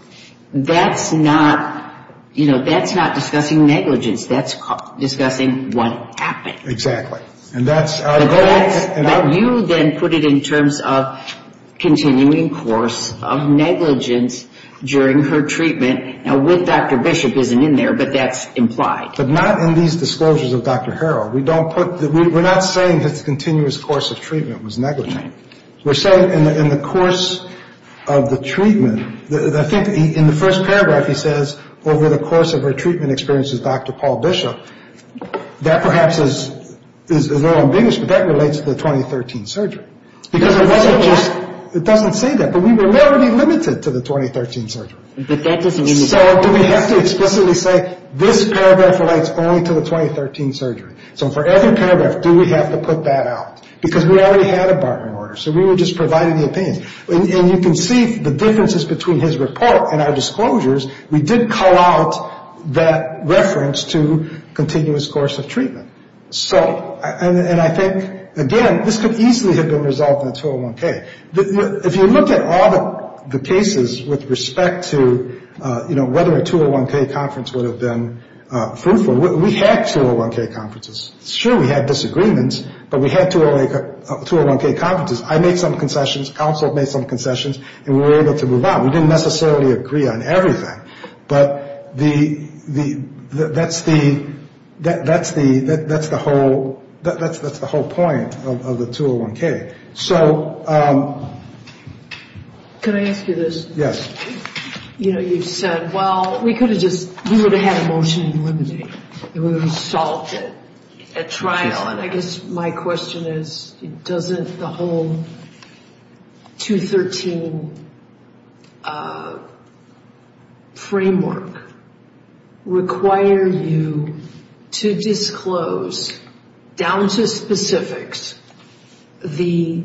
That's not, you know, that's not discussing negligence. That's discussing what happened. Exactly. Now you then put it in terms of continuing course of negligence during her treatment. Now with Dr. Bishop isn't in there, but that's implied. But not in these disclosures of Dr. Harrell. We don't put, we're not saying his continuous course of treatment was negligent. We're saying in the course of the treatment, I think in the first paragraph it says, over the course of her treatment experience with Dr. Paul Bishop, that perhaps is a little amused, but that relates to the 2013 surgery. It doesn't say that, but we will never be limited to the 2013 surgery. So do we have to explicitly say this paragraph relates only to the 2013 surgery? So for every paragraph, do we have to put that out? Because we already had a Barton order, so we were just providing the opinion. And you can see the differences between his report and our disclosures. We did call out that reference to continuous course of treatment. So, and I think, again, this could easily have been resolved in 201K. If you look at all the cases with respect to whether a 201K conference would have been fruitful, we had 201K conferences. Sure, we had disagreements, but we had 201K conferences. I made some concessions, counsel made some concessions, and we were able to move on. We didn't necessarily agree on everything, but that's the whole point of the 201K. So. Can I ask you this? Yes. You know, you said, well, we could have just, we would have had more time to limit it, and we would have solved it at trial, and I guess my question is, doesn't the whole 213 framework require you to disclose, down to specifics, the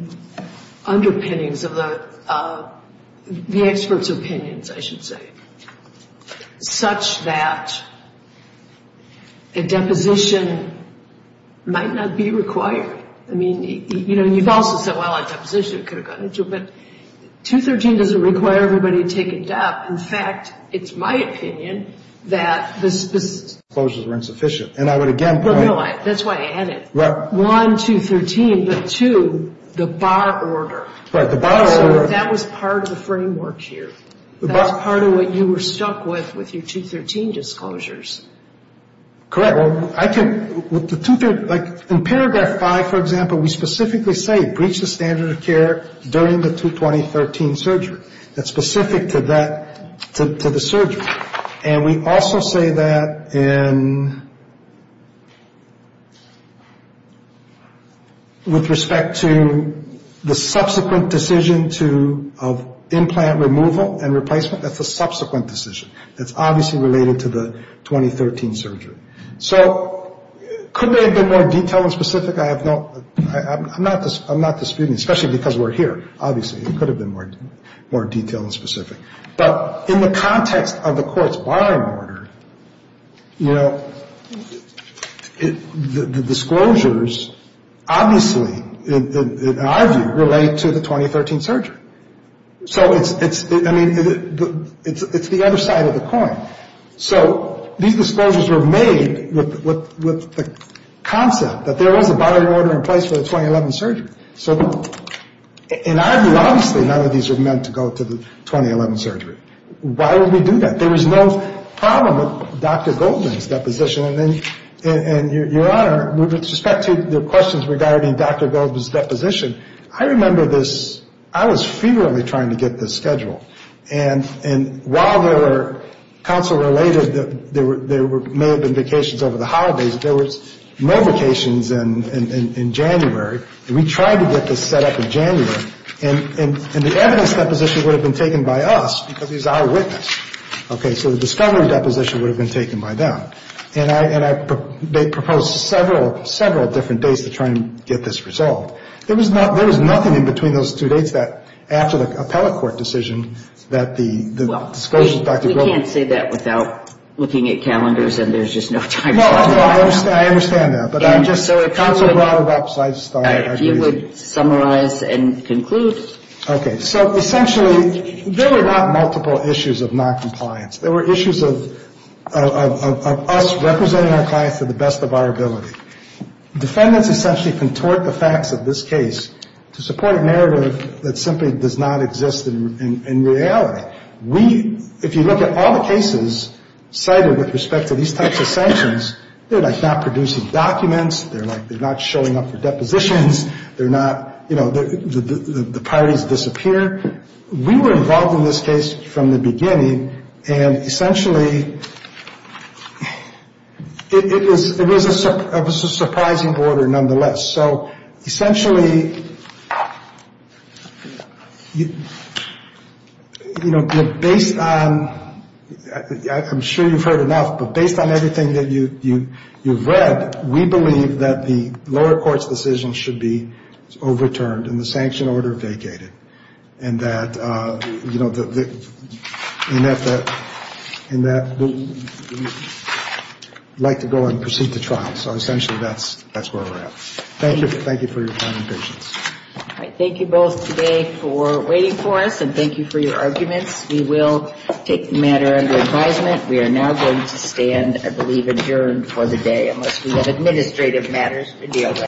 underpinnings of the experts' opinions, I should say, such that a deposition might not be required? I mean, you know, you've also said, well, a deposition could have gone into it, but 213 doesn't require everybody to take a step. In fact, it's my opinion that the. Disclosures were insufficient, and I would again point. No, that's why I added. Well. One, 213, but two, the bar order. Right, the bar order. So that was part of the framework here. That's part of what you were stuck with, with your 213 disclosures. Correct. Well, I think, like, in paragraph five, for example, we specifically say breach the standard of care during the 2213 surgery. That's specific to that, to the surgery. And we also say that in. With respect to the subsequent decision of implant removal and replacement. That's a subsequent decision. That's obviously related to the 2013 surgery. So, could there have been more detail and specific? I'm not disputing, especially because we're here. Obviously, there could have been more detail and specific. But in the context of the court's bar order, you know, the disclosures obviously, in our view, relate to the 2013 surgery. So, it's, I mean, it's the other side of the coin. So, these disclosures were made with the concept that there was a bar order in place for the 2011 surgery. So, in our view, obviously, none of these are meant to go to the 2011 surgery. Why would we do that? There was no problem with Dr. Goldman's deposition. And, Your Honor, with respect to the questions regarding Dr. Goldman's deposition, I remember this, I was feverishly trying to get this scheduled. And while there were counsel related, there may have been vacations over the holidays, there was no vacations in January. And we tried to get this set up in January. And the evidence deposition would have been taken by us because he's our witness. Okay, so the discovery deposition would have been taken by them. And they proposed several, several different dates to try and get this resolved. There was nothing in between those two dates that, after the appellate court decision, that the disclosures, Dr. Goldman... Counsel, you would summarize and conclude. Okay, so, essentially, there were not multiple issues of noncompliance. There were issues of us representing our clients to the best of our ability. Defendants essentially contort the facts of this case to support a narrative that simply does not exist in reality. If you look at all the cases cited with respect to these types of sanctions, they're like not producing documents. They're like not showing up for depositions. They're not, you know, the parties disappear. We were involved in this case from the beginning. And, essentially, it was a surprising order nonetheless. So, essentially, you know, based on... I'm sure you've heard enough, but based on everything that you've read, we believe that the lower court's decision should be overturned and the sanction order vacated. And that, you know, we'd like to go and proceed to trial. So, essentially, that's where we're at. Thank you for your time and patience. Thank you both today for waiting for us, and thank you for your arguments. We will take the matter into advisement. We are now going to stand, I believe, adjourned for the day, unless we have administrative matters to deal with.